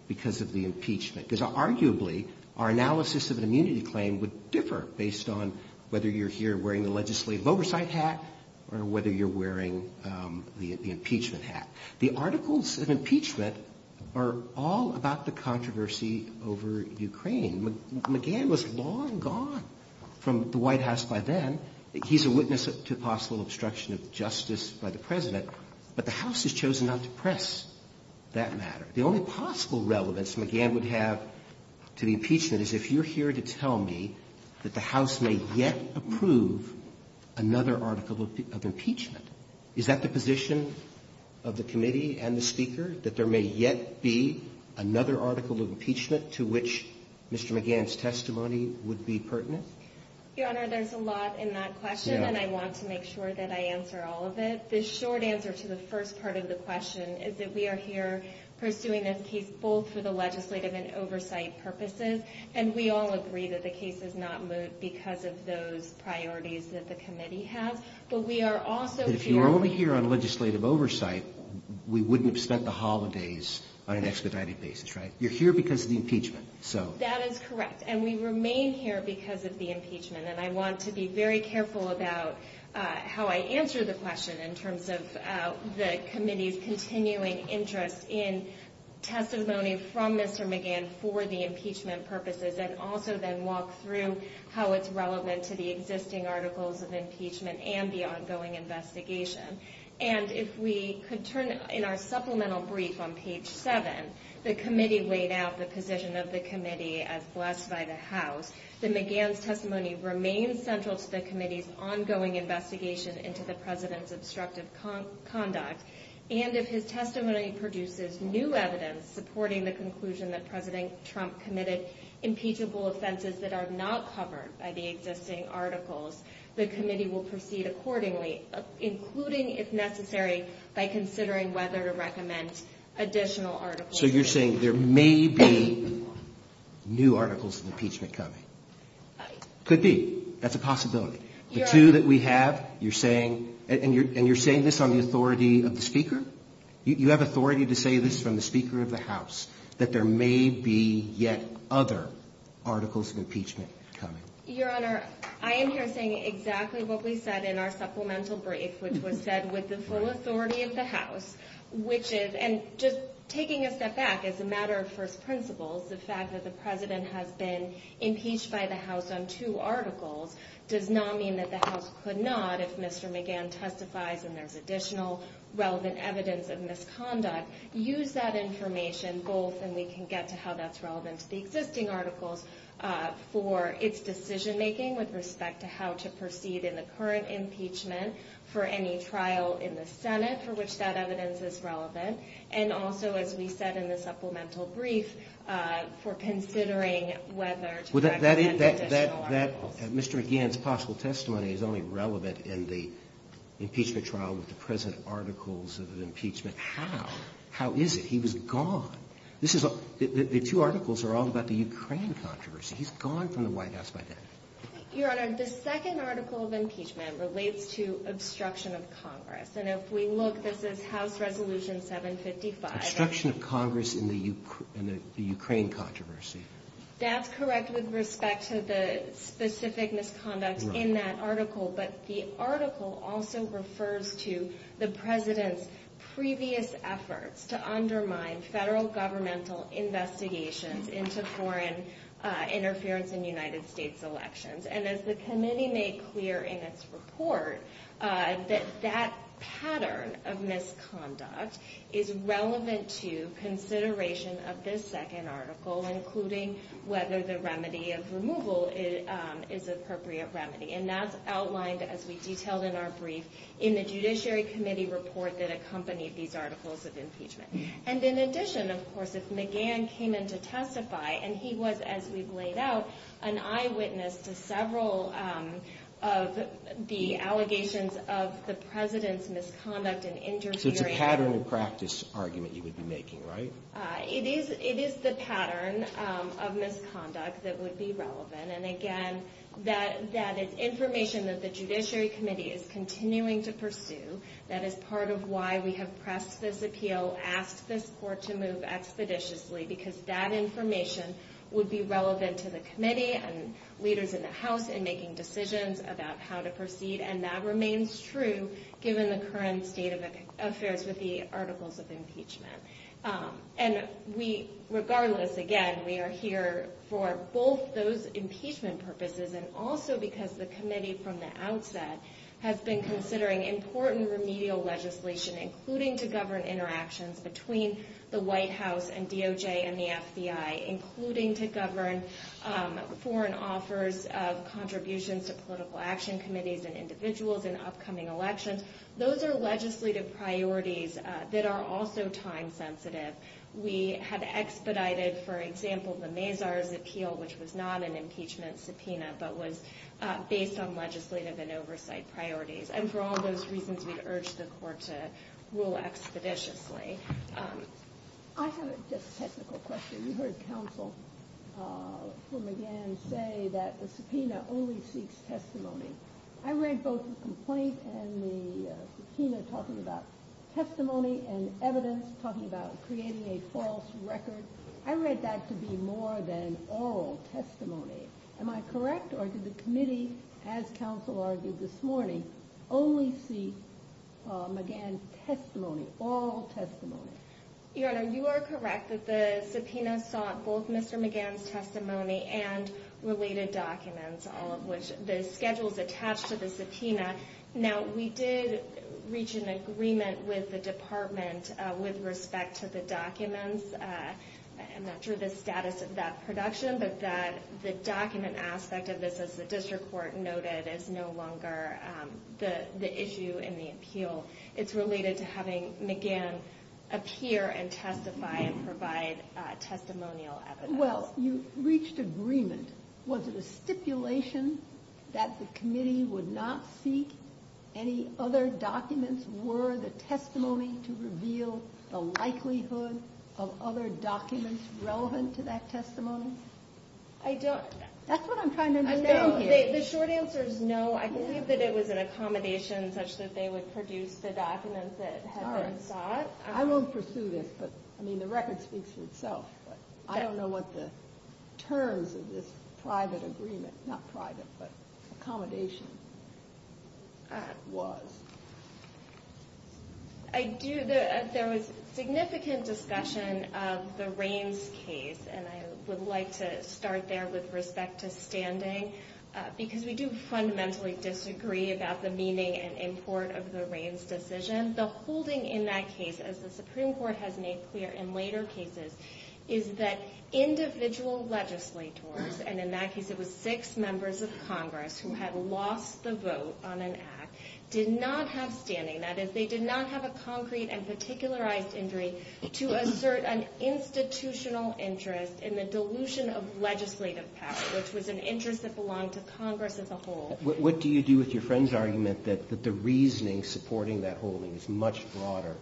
because of the impeachment? Because arguably, our analysis of an immunity claim would differ based on whether you're here wearing the legislative oversight hat or whether you're wearing the impeachment hat. The articles of impeachment are all about the controversy over Ukraine. McGahn was long gone from the White House by then. He's a witness to possible obstruction of justice by the President, but the House has chosen not to press that matter. The only possible relevance McGahn would have to the impeachment is if you're here to tell me that the House may yet approve another article of impeachment. Is that the position of the committee and the Speaker, that there may yet be another article of impeachment to which Mr. McGahn's testimony would be pertinent? Your Honor, there's a lot in that question, and I want to make sure that I answer all of it. The short answer to the first part of the question is that we are here pursuing this case both for the legislative and oversight purposes, and we all agree that the case does not move because of those priorities that the committee has, but we are also here... But if you're only here on legislative oversight, we wouldn't have spent the holidays on an expedited basis, right? You're here because of the impeachment, so... That is correct, and we remain here because of the impeachment, and I want to be very careful about how I answer the question in terms of the committee's continuing interest in testimony from Mr. McGahn for the impeachment purposes, and also then walk through how it's relevant to the existing articles of impeachment and the ongoing investigation. And if we could turn, in our supplemental brief on page 7, the committee laid out the position of the committee as blessed by the House, that McGahn's testimony remains central to the committee's ongoing investigation into the President's obstructive conduct, and if his testimony produces new evidence supporting the conclusion that President Trump committed impeachable offenses that are not covered by the existing articles, the committee will proceed accordingly, including, if necessary, by considering whether to recommend additional articles. So you're saying there may be new articles of impeachment coming? Could be. That's a possibility. The two that we have, you're saying... And you're saying this on the authority of the Speaker? You have authority to say this from the Speaker of the House, that there may be yet other articles of impeachment coming? Your Honor, I am here saying exactly what we said in our supplemental brief, which was said with the full authority of the House, which is, and just taking a step back as a matter of first principles, the fact that the President has been impeached by the House on two articles does not mean that the House could not, if Mr. McGahn testifies and there's additional relevant evidence of misconduct, use that information both, and we can get to how that's relevant to the existing articles, for its decision-making with respect to how to proceed in the current impeachment, for any trial in the Senate for which that evidence is relevant, and also, as we said in the supplemental brief, for considering whether to recommend additional articles. Mr. McGahn's possible testimony is only relevant in the impeachment trial with the present articles of impeachment. How? How is it? He was gone. The two articles are all about the Ukraine controversy. He's gone from the White House by then. Your Honor, the second article of impeachment relates to obstruction of Congress, and if we look, this is House Resolution 755. Obstruction of Congress in the Ukraine controversy. That's correct with respect to the specific misconduct in that article, but the article also refers to the President's previous efforts to undermine federal governmental investigations into foreign interference in the United States elections, and as the committee made clear in its report, that that pattern of misconduct is relevant to consideration of this second article, including whether the remedy of removal is the appropriate remedy, and that's outlined, as we detailed in our brief, in the Judiciary Committee report that accompanied these articles of impeachment. And in addition, of course, if McGahn came in to testify, and he was, as we've laid out, an eyewitness to several of the allegations of the President's misconduct and interference. So it's a pattern of practice argument you would be making, right? It is the pattern of misconduct that would be relevant, and again, that is information that the Judiciary Committee is continuing to pursue. That is part of why we have pressed this appeal, asked this court to move expeditiously, because that information would be relevant to the committee and leaders in the House in making decisions about how to proceed, and that remains true, given the current state of affairs with the articles of impeachment. And regardless, again, we are here for both those impeachment purposes and also because the committee from the outset has been considering important remedial legislation, including to govern interactions between the White House and DOJ and the FBI, including to govern foreign offers of contributions to political action committees and individuals in upcoming elections. Those are legislative priorities that are also time-sensitive. We have expedited, for example, the Mazars appeal, which was not an impeachment subpoena, but was based on legislative and oversight priorities. And for all those reasons, we urge the court to rule expeditiously. I have a just technical question. We heard counsel from again say that the subpoena only seeks testimony. I read both the complaint and the subpoena talking about testimony and evidence, talking about creating a false record. I read that to be more than oral testimony. Am I correct, or did the committee, as counsel argued this morning, only seek McGahn's testimony, oral testimony? Your Honor, you are correct that the subpoena sought both Mr. McGahn's testimony and related documents, all of which the schedules attached to the subpoena. Now, we did reach an agreement with the department with respect to the documents. I'm not sure the status of that production, but that the document aspect of this, as the district court noted, is no longer the issue in the appeal. It's related to having McGahn appear and testify and provide testimonial evidence. Well, you reached agreement. Was it a stipulation that the committee would not seek any other documents? Were the testimony to reveal the likelihood of other documents relevant to that testimony? I don't know. That's what I'm trying to understand. The short answer is no. I believe that it was an accommodation such that they would produce the documents that had been sought. All right. I won't pursue this, but I mean the record speaks for itself. I don't know what the terms of this private agreement, not private, but accommodation was. I do. There was significant discussion of the Raines case, and I would like to start there with respect to standing, because we do fundamentally disagree about the meaning and import of the Raines decision. And the holding in that case, as the Supreme Court has made clear in later cases, is that individual legislators, and in that case it was six members of Congress who had lost the vote on an act, did not have standing. That is, they did not have a concrete and particularized injury to assert an institutional interest in the dilution of legislative power, which was an interest that belonged to Congress as a whole. What do you do with your friend's argument that the reasoning supporting that holding is much broader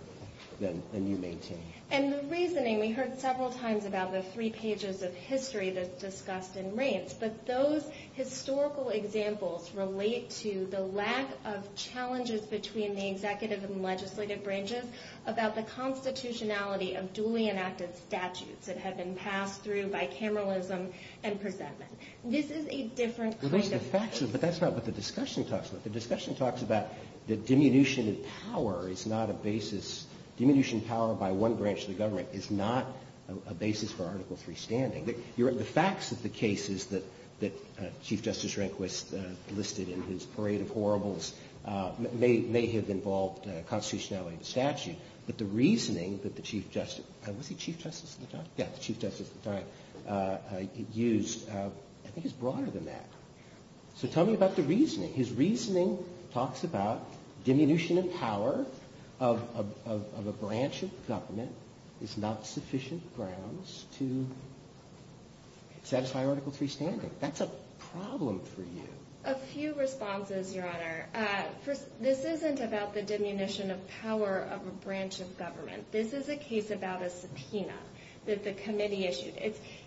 than you maintain? And the reasoning, we heard several times about the three pages of history that's discussed in Raines, but those historical examples relate to the lack of challenges between the executive and legislative branches about the constitutionality of duly enacted statutes that have been passed through bicameralism and presentment. This is a different criticism. But that's not what the discussion talks about. The discussion talks about the diminution of power is not a basis. Diminution of power by one branch of the government is not a basis for article free standing. The facts of the cases that Chief Justice Rehnquist listed in his parade of horribles may have involved constitutionality of the statute, but the reasoning that the Chief Justice used is broader than that. So tell me about the reasoning. His reasoning talks about diminution of power of a branch of government is not sufficient grounds to satisfy article free standing. That's a problem for you. A few responses, Your Honor. This isn't about the diminution of power of a branch of government. This is a case about a subpoena that the committee issued.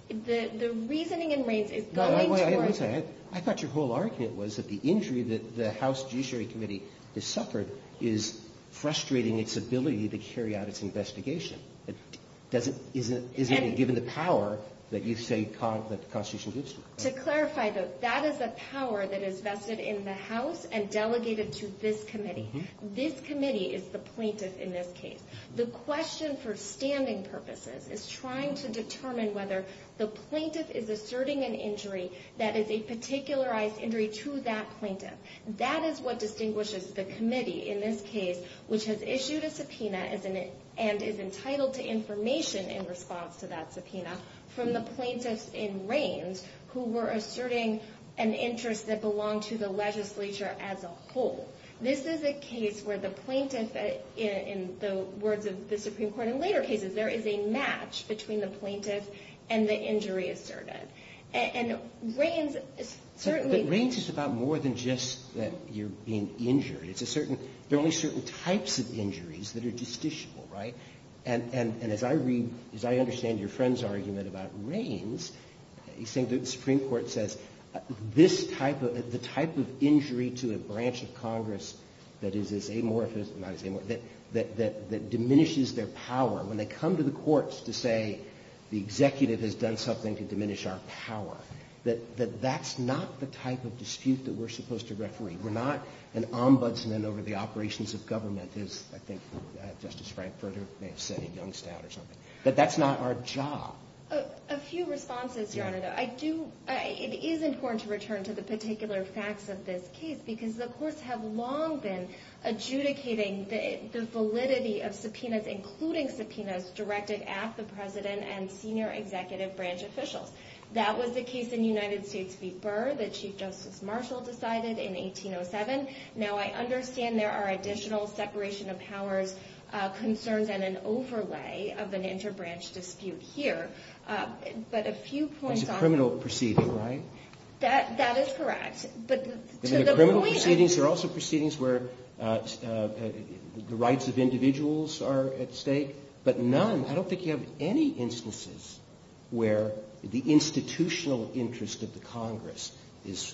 The reasoning in Raines is going to court. I thought your whole argument was that the injury that the House Judiciary Committee has suffered is frustrating its ability to carry out its investigation. Isn't it given the power that you say the Constitution gives to it? To clarify, that is a power that is vested in the House and delegated to this committee. This committee is the plaintiff in this case. The question for standing purposes is trying to determine whether the plaintiff is asserting an injury that is a particularized injury to that plaintiff. That is what distinguishes the committee in this case, which has issued a subpoena and is entitled to information in response to that subpoena, from the plaintiffs in Raines who were asserting an interest that belonged to the legislature as a whole. This is a case where the plaintiffs, in the words of the Supreme Court in later cases, there is a match between the plaintiffs and the injury asserted. Raines is about more than just your being injured. There are only certain types of injuries that are justiciable. As I read, as I understand your friend's argument about Raines, I think the Supreme Court says the type of injury to a branch of Congress that diminishes their power, when they come to the courts to say the executive has done something to diminish our power, that that's not the type of dispute that we're supposed to referee. We're not an ombudsman over the operations of government, as I think Justice Frankfurter may have said, he dunced out or something. That that's not our job. A few responses, Your Honor. It is important to return to the particular facts of this case, because the courts have long been adjudicating the validity of subpoenas, including subpoenas directed at the president and senior executive branch officials. That was the case in the United States before that Chief Justice Marshall decided in 1807. Now, I understand there are additional separation of powers concerns and an overlay of an interbranch dispute here. That's a criminal proceeding, right? That is correct. There are criminal proceedings. There are also proceedings where the rights of individuals are at stake, but none, I don't think you have any instances where the institutional interest of the Congress has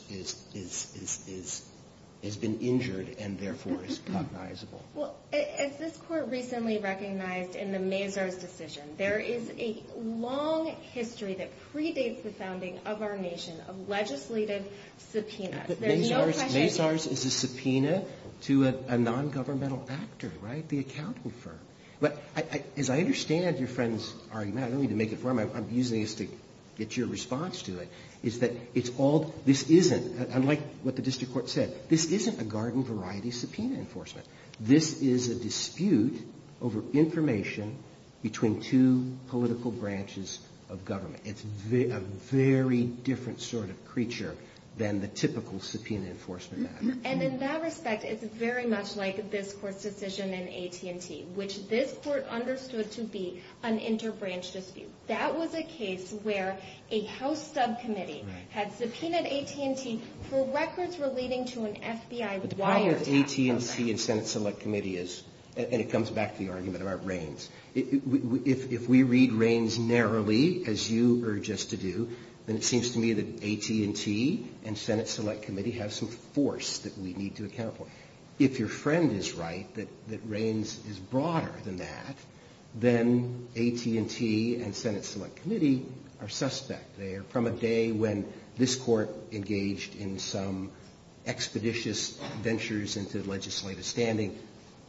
been injured and, therefore, is cognizable. Well, as this court recently recognized in the Mazars decision, there is a long history that predates the founding of our nation of legislative subpoenas. The Mazars is a subpoena to a non-governmental actor, right? The accountant firm. As I understand your friend's argument, I don't mean to make it formal, I'm using this to get your response to it, is that this isn't, unlike what the district court said, this isn't a garden variety subpoena enforcement. This is a dispute over information between two political branches of government. It's a very different sort of creature than the typical subpoena enforcement. And in that respect, it's very much like this court's decision in AT&T, which this court understood to be an interbranch dispute. That was a case where a House subcommittee had subpoenaed AT&T for records relating to an FBI- But why are AT&T and Senate Select Committee, and it comes back to the argument about Reins, if we read Reins narrowly, as you urge us to do, then it seems to me that AT&T and Senate Select Committee have some force that we need to account for. If your friend is right, that Reins is broader than that, then AT&T and Senate Select Committee are suspect. They are from a day when this court engaged in some expeditious ventures into legislative standing,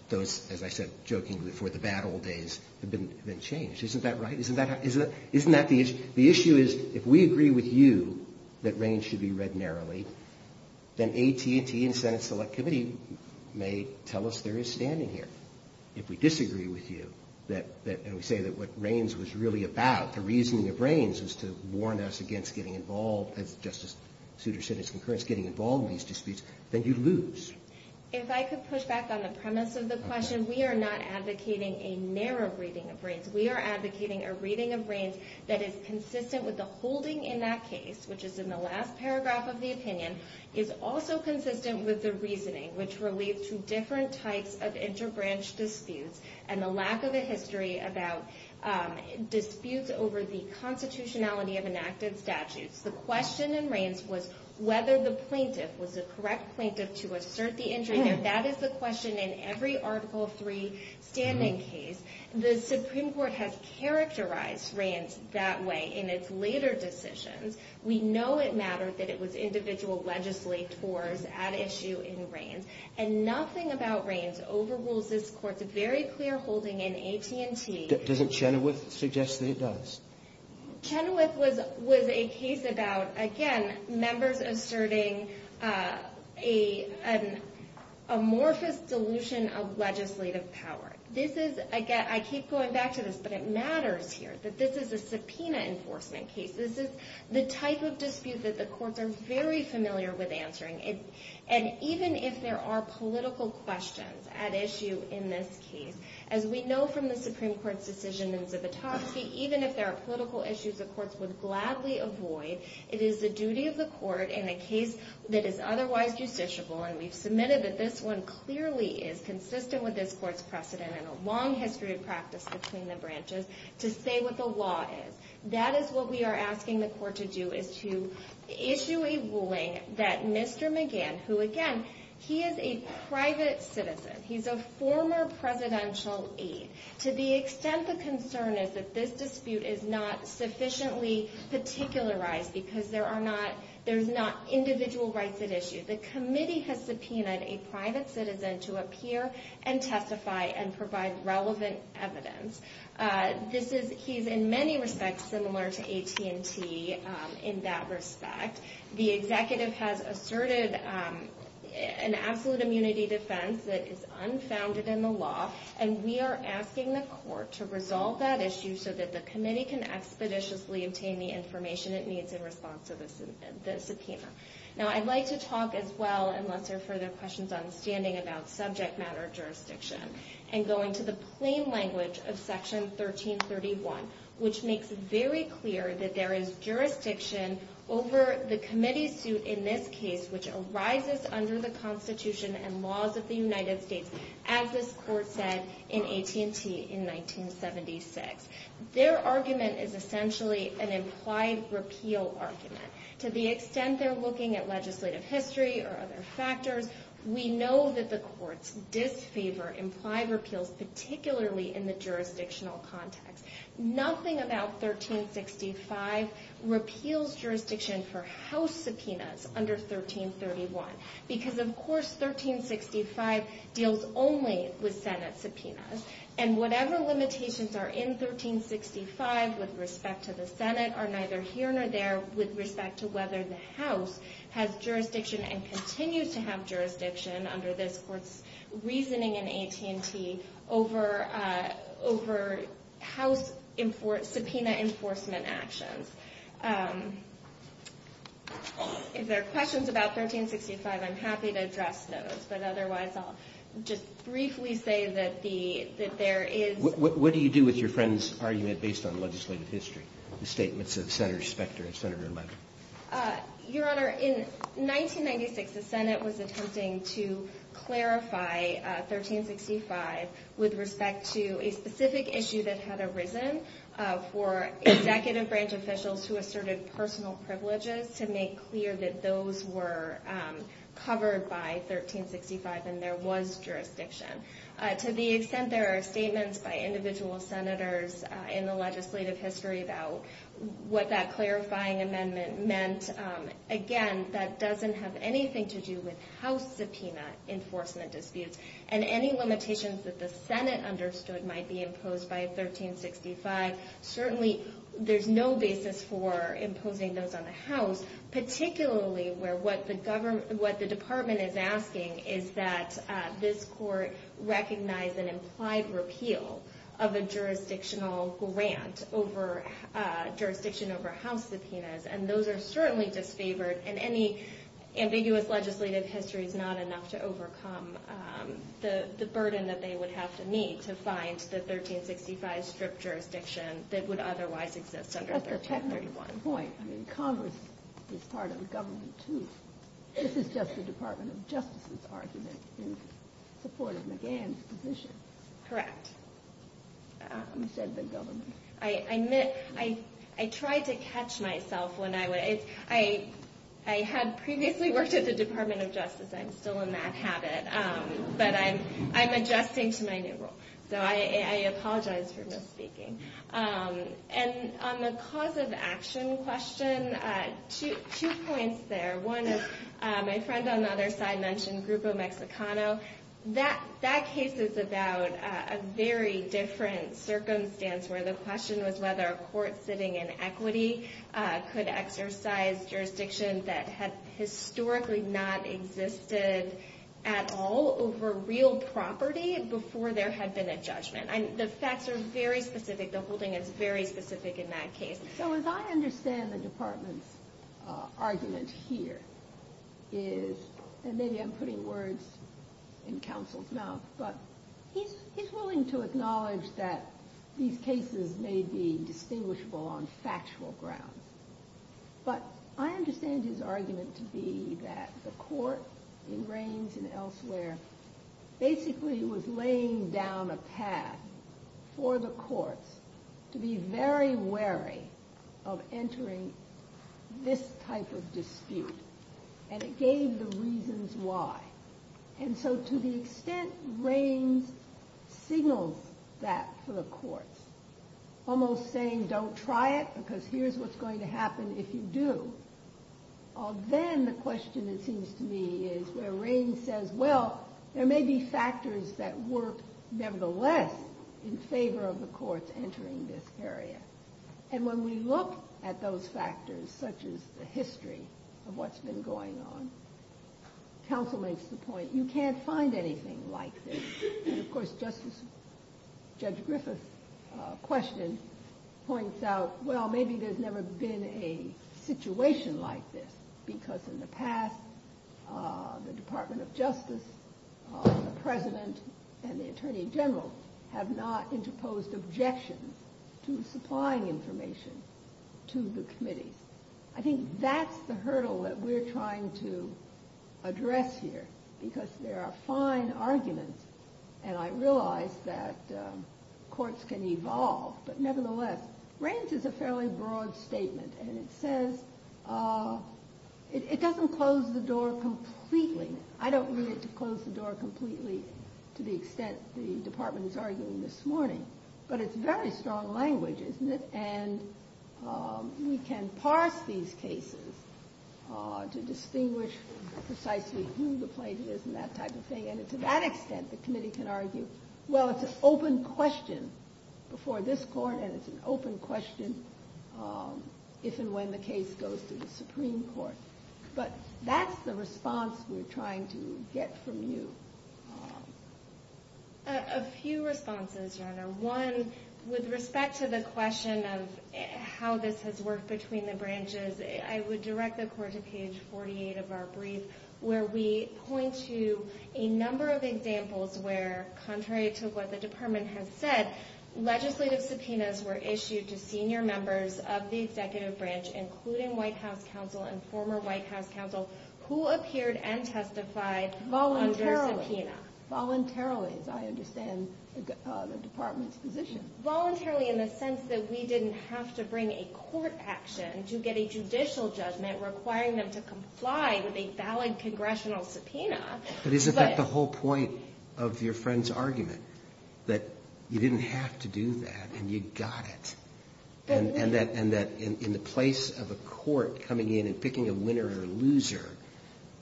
though, as I said, jokingly, for the bad old days, it didn't change. Isn't that right? Isn't that the issue? The issue is, if we agree with you that Reins should be read narrowly, then AT&T and Senate Select Committee may tell us there is standing here. If we disagree with you, and we say that what Reins was really about, the reasoning of Reins, was to warn us against getting involved, just as Souter said in his concurrence, getting involved in these disputes, then you lose. If I could push back on the premise of the question, we are not advocating a narrow reading of Reins. We are advocating a reading of Reins that is consistent with the holding in that case, which is in the last paragraph of the opinion, is also consistent with the reasoning, which relates to different types of interbranch disputes, and the lack of a history about disputes over the constitutionality of an active statute. The question in Reins was whether the plaintiff was the correct plaintiff to assert the injury, and that is the question in every Article III standing case. The Supreme Court has characterized Reins that way in its later decisions. We know it matters that it was individual legislators at issue in Reins, and nothing about Reins overrules this Court's very clear holding in AP&T. Does it chenoweth suggest that it does? Chenoweth was a case about, again, members asserting an amorphous dilution of legislative power. This is, again, I keep going back to this, but it matters here, that this is a subpoena enforcement case. This is the type of dispute that the courts are very familiar with answering, and even if there are political questions at issue in this case, as we know from the Supreme Court's decision in the top sheet, even if there are political issues the courts would gladly avoid, it is the duty of the court in a case that is otherwise justiciable, and we've submitted that this one clearly is consistent with this Court's precedent and a long history of practice between the branches, to stay with the law. That is what we are asking the court to do, is to issue a ruling that Mr. McGann, who again, he is a private citizen, he's a former presidential aide, to the extent the concern is that this dispute is not sufficiently particularized because there are not individual rights at issue. The committee has subpoenaed a private citizen to appear and testify and provide relevant evidence. He's in many respects similar to AT&T in that respect. The executive has asserted an absolute immunity defense that is unfounded in the law, and we are asking the court to resolve that issue so that the committee can expeditiously obtain the information it needs in response to the subpoena. Now I'd like to talk as well, unless there are further questions I'm understanding, about subject matter jurisdiction and going to the plain language of Section 1331, which makes it very clear that there is jurisdiction over the committee's suit in this case, which arises under the Constitution and laws of the United States, as this Court said in AT&T in 1976. Their argument is essentially an implied repeal argument. To the extent they're looking at legislative history or other factors, we know that the courts disfavor implied repeals, particularly in the jurisdictional context. Nothing about 1365 repeals jurisdiction for House subpoenas under 1331 because, of course, 1365 deals only with Senate subpoenas, and whatever limitations are in 1365 with respect to the Senate are neither here nor there with respect to whether the House has jurisdiction and continues to have jurisdiction, under this Court's reasoning in AT&T, over House subpoena enforcement actions. If there are questions about 1365, I'm happy to address those, but otherwise I'll just briefly say that there is... What do you do with your friend's argument based on legislative history, the statements of Senator Specter and Senator Munger? Your Honor, in 1996, the Senate was attempting to clarify 1365 with respect to a specific issue that had arisen for executive branch officials to assert its personal privileges to make clear that those were covered by 1365 and there was jurisdiction. To the extent there are statements by individual Senators in the legislative history about what that clarifying amendment meant, again, that doesn't have anything to do with House subpoena enforcement disputes, and any limitations that the Senate understood might be imposed by 1365. Certainly, there's no basis for imposing those on the House, particularly where what the Department is asking is that this Court recognize an implied repeal of a jurisdictional grant over jurisdiction over House subpoenas, and those are certainly disfavored, and any ambiguous legislative history is not enough to overcome the burden that they would have to meet to find the 1365 strip jurisdiction that would otherwise exist under 1331. My point, Congress is part of government too. This is just the Department of Justice's argument in support of McGahn's position. Correct. Instead of the government. I admit, I tried to catch myself when I went. I had previously worked at the Department of Justice. I'm still in that habit, but I'm adjusting to my new role, so I apologize for misspeaking. On the cause of action question, two points there. One, my friend on the other side mentioned Grupo Mexicano. That case is about a very different circumstance, where the question was whether a court sitting in equity could exercise jurisdictions that had historically not existed at all over real property before there had been a judgment. The facts are very specific. The holding is very specific in that case. So as I understand the Department's argument here is, and maybe I'm putting words in counsel's mouth, but he's willing to acknowledge that these cases may be distinguishable on factual grounds. But I understand his argument to be that the court in Raines and elsewhere basically was laying down a path for the court to be very wary of entering this type of dispute. And it gave the reasons why. And so to the extent Raines signals that to the court, almost saying don't try it because here's what's going to happen if you do, then the question, it seems to me, is where Raines says, well, there may be factors that work nevertheless in favor of the courts entering this area. And when we look at those factors, such as the history of what's been going on, counsel makes the point you can't find anything like this. And, of course, Judge Griffith's question points out, well, maybe there's never been a situation like this because in the past the Department of Justice, the President, and the Attorney General have not interposed objections to supplying information to the committee. I think that's the hurdle that we're trying to address here because there are fine arguments. And I realize that courts can evolve. But nevertheless, Raines is a fairly broad statement. And it says it doesn't close the door completely. I don't need it to close the door completely to the extent the Department is arguing this morning. But it's very strong language, isn't it? And we can parse these cases to distinguish precisely who the plaintiff is and that type of thing. And to that extent, the committee can argue, well, it's an open question before this court and it's an open question if and when the case goes to the Supreme Court. But that's the response we're trying to get from you. A few responses, Jenna. One, with respect to the question of how this has worked between the branches, I would direct the court to page 48 of our brief where we point to a number of examples where, contrary to what the Department has said, legislative subpoenas were issued to senior members of the executive branch, including White House counsel and former White House counsel, who appeared and testified under a subpoena. Voluntarily, as I understand the Department's position. Voluntarily in the sense that we didn't have to bring a court action to get a judicial judgment requiring them to comply with a valid congressional subpoena. But isn't that the whole point of your friend's argument? That you didn't have to do that and you got it. And that in the place of a court coming in and picking a winner or a loser,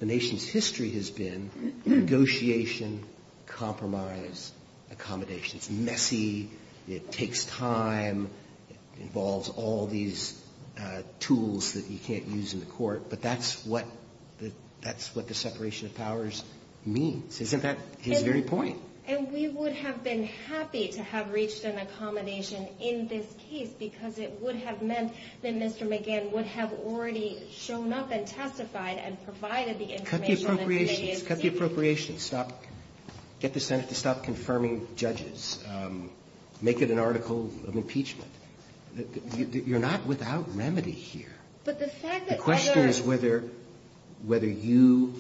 the nation's history has been negotiation, compromise, accommodation. It's messy. It takes time. It involves all these tools that you can't use in the court. But that's what the separation of powers means. Isn't that his very point? And we would have been happy to have reached an accommodation in this case because it would have meant that Mr. McGann would have already shown up and testified and provided the information. Cut the appropriations. Cut the appropriations. Stop. Get the Senate to stop confirming judges. Make it an article of impeachment. You're not without remedy here. The question is whether you,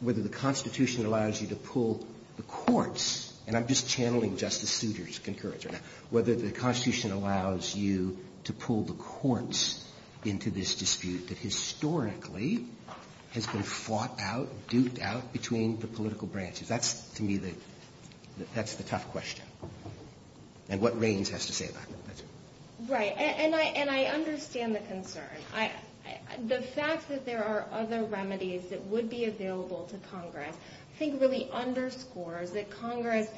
whether the Constitution allows you to pull the courts, and I'm just channeling Justice Souter's encouragement, whether the Constitution allows you to pull the courts into this dispute that historically has been fought out, duked out between the political branches. That's to me the tough question. And what Reigns has to say about that. Right. And I understand the concern. The fact that there are other remedies that would be available to Congress, I think really underscores that Congress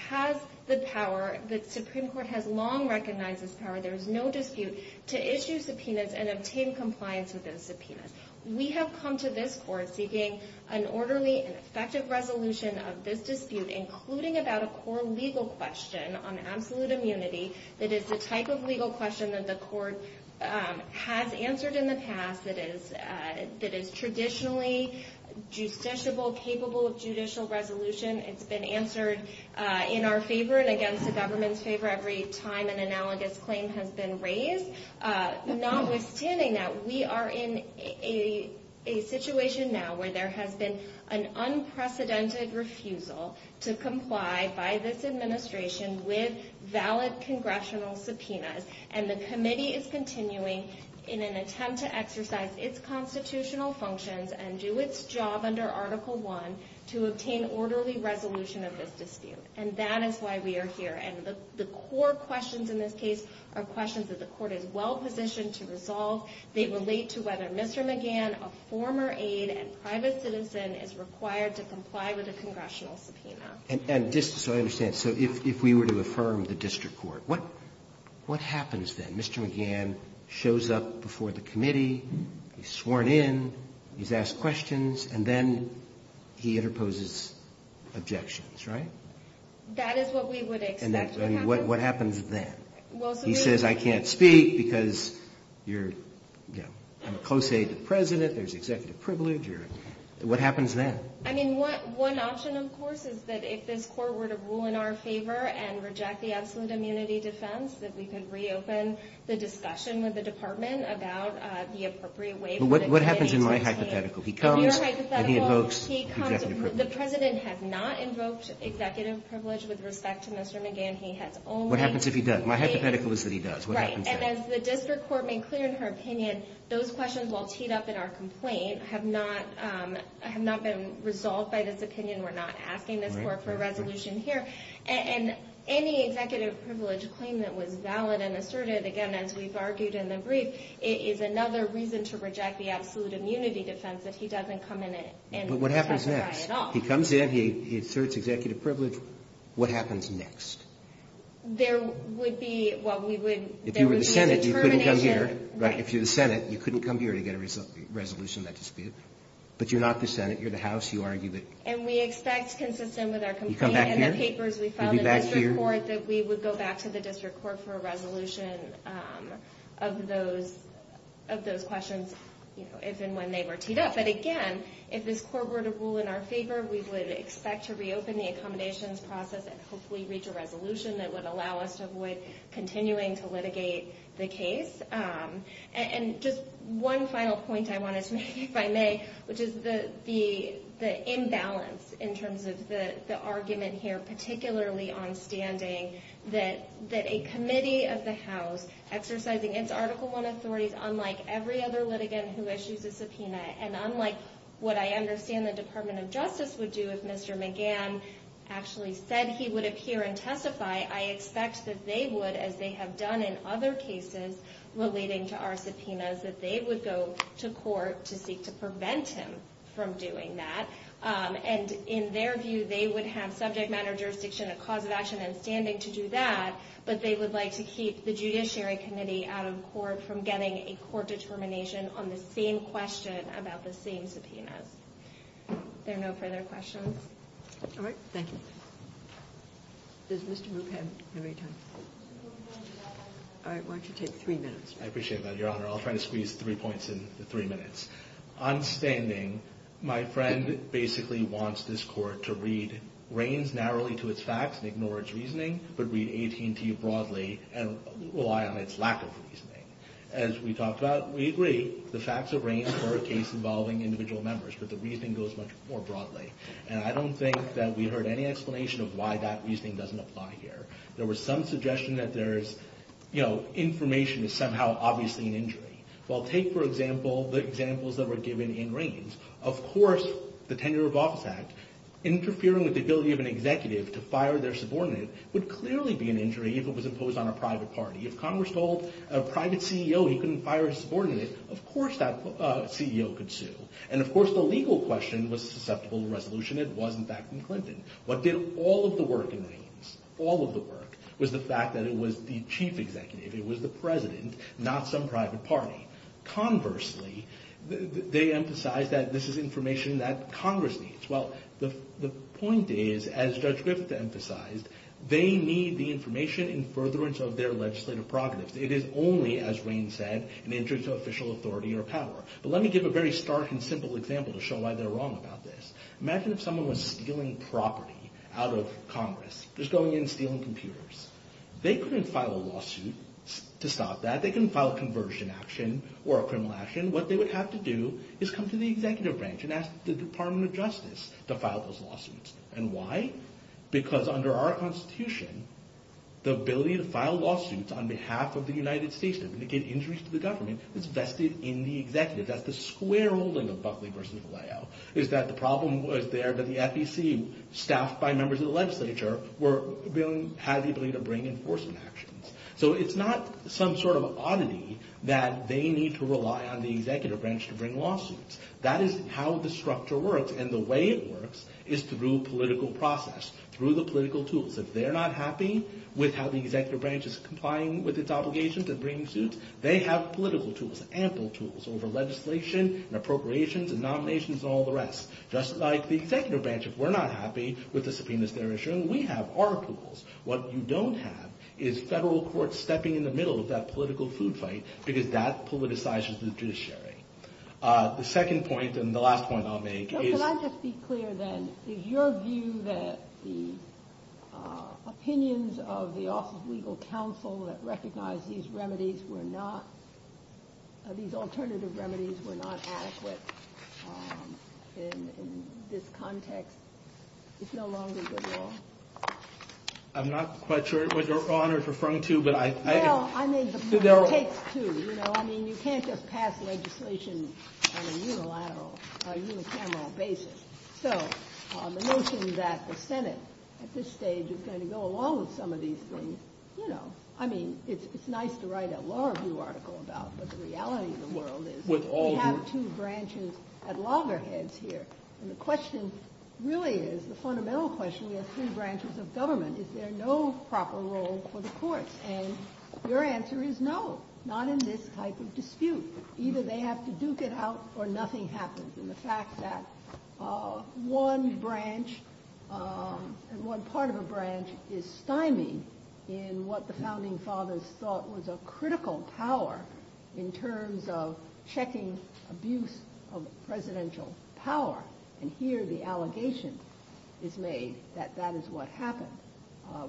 has the power, the Supreme Court has long recognized this power, there's no dispute, to issue subpoenas and obtain compliance with those subpoenas. We have come to this court seeking an orderly, effective resolution of this dispute, including about a core legal question on absolute immunity, that is the type of legal question that the court has answered in the past, that is traditionally judiciable, capable of judicial resolution. It's been answered in our favor and against the government's favor every time an analogous claim has been raised. Notwithstanding that, we are in a situation now where there has been an unprecedented refusal to issue valid congressional subpoenas, and the committee is continuing in an attempt to exercise its constitutional functions and do its job under Article I to obtain orderly resolution of this dispute. And that is why we are here. And the core questions in this case are questions that the court is well positioned to resolve. They relate to whether Mr. McGann, a former aide and private citizen, is required to comply with a congressional subpoena. And just so I understand, so if we were to affirm the district court, what happens then? Mr. McGann shows up before the committee, he's sworn in, he's asked questions, and then he interposes objections, right? That is what we would expect. And what happens then? He says, I can't speak because you're a close aide to the president, there's executive privilege. What happens then? I mean, one option, of course, is that if this court were to rule in our favor and reject the absolute immunity defense, that we could reopen the discussion with the department about the appropriate way. What happens in my hypothetical? He comes and he invokes executive privilege. The president has not invoked executive privilege with respect to Mr. McGann. What happens if he does? My hypothetical is that he does. Right. And as the district court made clear in her opinion, those questions, while teed up in our complaint, have not been resolved by this opinion. We're not asking the court for a resolution here. And any executive privilege claim that was valid and asserted, again, as we've argued in the brief, is another reason to reject the absolute immunity defense if he doesn't come in and testify at all. But what happens next? He comes in, he asserts executive privilege. What happens next? There would be, well, we would, if you were the Senate, you couldn't come here. If you're the Senate, you couldn't come here to get a resolution that disputed. But you're not the Senate, you're the house. You argue that. And we expect consistent with our complaint in the papers, we found in the district court that we would go back to the district court for a resolution of those questions, if and when they were teed up. But again, if this court were to rule in our favor, we would expect to reopen the accommodations process and hopefully reach a And just one final point I wanted to make, if I may, which is the imbalance in terms of the argument here, particularly on standing, that a committee of the house exercising its Article I authorities, unlike every other litigant who issues a subpoena, and unlike what I understand the Department of Justice would do if Mr. McGann actually said he would appear and testify, I expect that they would, as they have done in other cases, relating to our subpoenas, that they would go to court to seek to prevent him from doing that. And in their view, they would have subject matter jurisdiction and a cause of action and standing to do that, but they would like to keep the judiciary committee out of court from getting a court determination on the same question about the same subpoena. Are there no further questions? All right. Thank you. Does Mr. McGann have any time? All right, why don't you take three minutes. I appreciate that, Your Honor. I'll try to squeeze three points in three minutes. On standing, my friend basically wants this court to read Reins narrowly to its facts and ignore its reasoning, but read AT&T broadly and rely on its lack of reasoning. As we talked about, we agree, the facts of Reins are a case involving individual members, but the reasoning goes much more broadly. And I don't think that we heard any explanation of why that reasoning doesn't apply here. There was some suggestion that there's, you know, information is somehow obviously an injury. Well, take, for example, the examples that were given in Reins. Of course, the Tenure of Office Act interfering with the ability of an executive to fire their subordinate would clearly be an injury if it was imposed on a private party. If Congress told a private CEO he couldn't fire a subordinate, of course that CEO could sue. And, of course, the legal question was susceptible to resolution had won back in Clinton. What did all of the work in Reins, all of the work, was the fact that it was the chief executive, it was the president, not some private party. Conversely, they emphasize that this is information that Congress needs. Well, the point is, as Judge Griffith emphasized, they need the information in furtherance of their legislative prerogatives. It is only, as Reins said, an interest of official authority or power. Well, let me give a very stark and simple example to show why they're wrong about this. Imagine if someone was stealing property out of Congress, just going in and stealing computers. They couldn't file a lawsuit to stop that. They couldn't file a conversion action or a criminal action. What they would have to do is come to the executive branch and ask the Department of Justice to file those lawsuits. And why? Because under our Constitution, the ability to file lawsuits on behalf of the United States and indicate the injuries to the government is vested in the executive. That's the square rolling of Buckley v. Malayo, is that the problem was there that the FEC, staffed by members of the legislature, has the ability to bring enforcement action. So it's not some sort of oddity that they need to rely on the executive branch to bring lawsuits. That is how the structure works. And the way it works is through political process, through the political tools. If they're not happy with how the executive branch is complying with its obligations of bringing lawsuits, they have political tools, ample tools, over legislation and appropriations and nominations and all the rest. Just like the executive branch, if we're not happy with the subpoenas they're issuing, we have our tools. What you don't have is federal courts stepping in the middle of that political food fight because that politicizes the judiciary. The second point and the last point I'll make is- Can I just be clear then? Is your view that the opinions of the Office of Legal Counsel that these alternative remedies were not adequate in this context? It's no longer the law? I'm not quite sure what you're referring to. I mean, you can't just pass legislation on a unilateral, unicameral basis. So the notion that the Senate at this stage is going to go along with some of these things, I mean, it's nice to write a law review article about, but the reality of the world is we have two branches at loggerheads here. And the question really is, the fundamental question, we have two branches of government. Is there no proper role for the courts? And your answer is no, not in this type of dispute. Either they have to duke it out or nothing happens. And the fact that one branch and one part of a branch is stymied in what the founding fathers thought was a critical power in terms of checking abuse of presidential power. And here the allegation is made that that is what happened.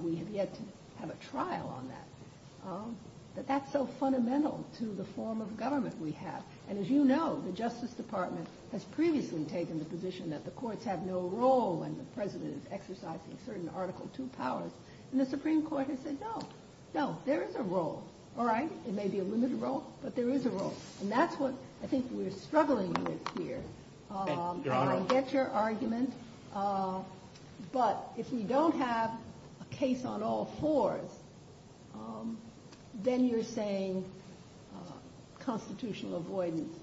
We have yet to have a trial on that. But that's so fundamental to the form of government we have. And as you know, the Justice Department has previously taken the position that the courts have no role when the president is exercising certain Article II powers. And the Supreme Court has said, no, no, there is a role. All right? It may be a limited role, but there is a role. And that's what I think we're struggling with here. I'll get your argument. But if we don't have a case on all fours, then you're saying constitutional avoidance.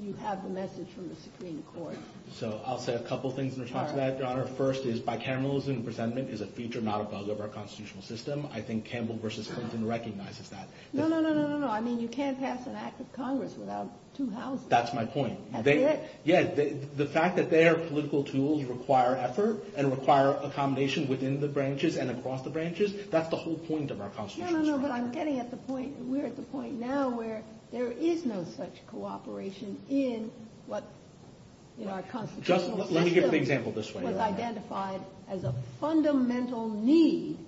You have the message from the Supreme Court. So I'll say a couple things in response to that, Your Honor. First is bicameralism and resentment is a feature, not a bug, of our constitutional system. I think Campbell v. Clinton recognizes that. No, no, no, no, no, no. I mean, you can't pass an act of Congress without two houses. That's my point. You hear it? Yes. The fact that their political tools require effort and require accommodation within the branches and across the branches, that's the whole point of our constitutional system. No, no, no, but I'm getting at the point that we're at the point now where there is no such cooperation in our constitutional system. Let me give an example this way. It was identified as a fundamental need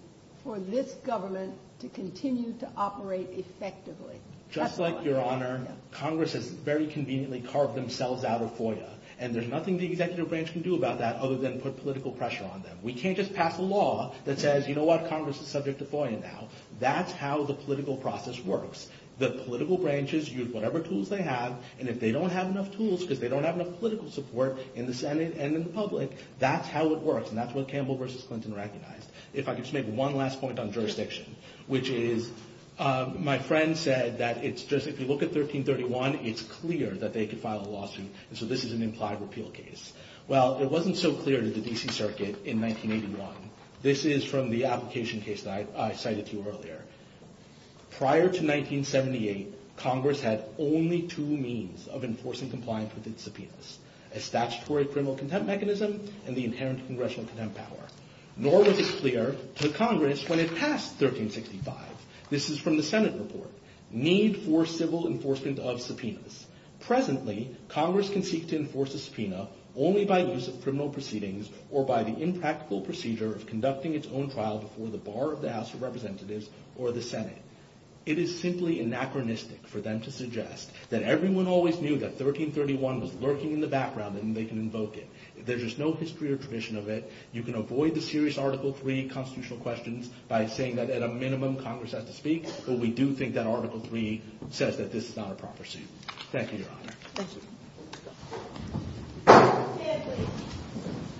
for this government to continue to operate effectively. Just like, Your Honor, Congress has very conveniently carved themselves out of FOIA. And there's nothing the executive branch can do about that other than put political pressure on them. We can't just pass a law that says, You know what? Congress is subject to FOIA now. That's how the political process works. The political branches use whatever tools they have, and if they don't have enough tools because they don't have enough political support in the Senate and in the public, that's how it works, and that's what Campbell v. Clinton recognized. If I could just make one last point on jurisdiction, which is, my friend said that it's just, if you look at 1331, it's clear that they could file a lawsuit, and so this is an implied repeal case. Well, it wasn't so clear to the D.C. Circuit in 1981. This is from the application case that I cited to you earlier. Prior to 1978, Congress had only two means of enforcing compliance with its subpoenas, a statutory criminal contempt mechanism and the inherent congressional contempt power. Nor was it clear to Congress when it passed 1365, this is from the Senate report, need for civil enforcement of subpoenas. Presently, Congress can seek to enforce a subpoena only by loose criminal proceedings or by the impractical procedure of conducting its own trial before the bar of the House of Representatives or the Senate. It is simply anachronistic for them to suggest that everyone always knew that 1331 was lurking in the background and they can invoke it. There is no history or tradition of it. You can avoid the serious Article III constitutional questions by saying that at a minimum, Congress has to speak, but we do think that Article III says that this is not a proper seat. Thank you, Your Honor.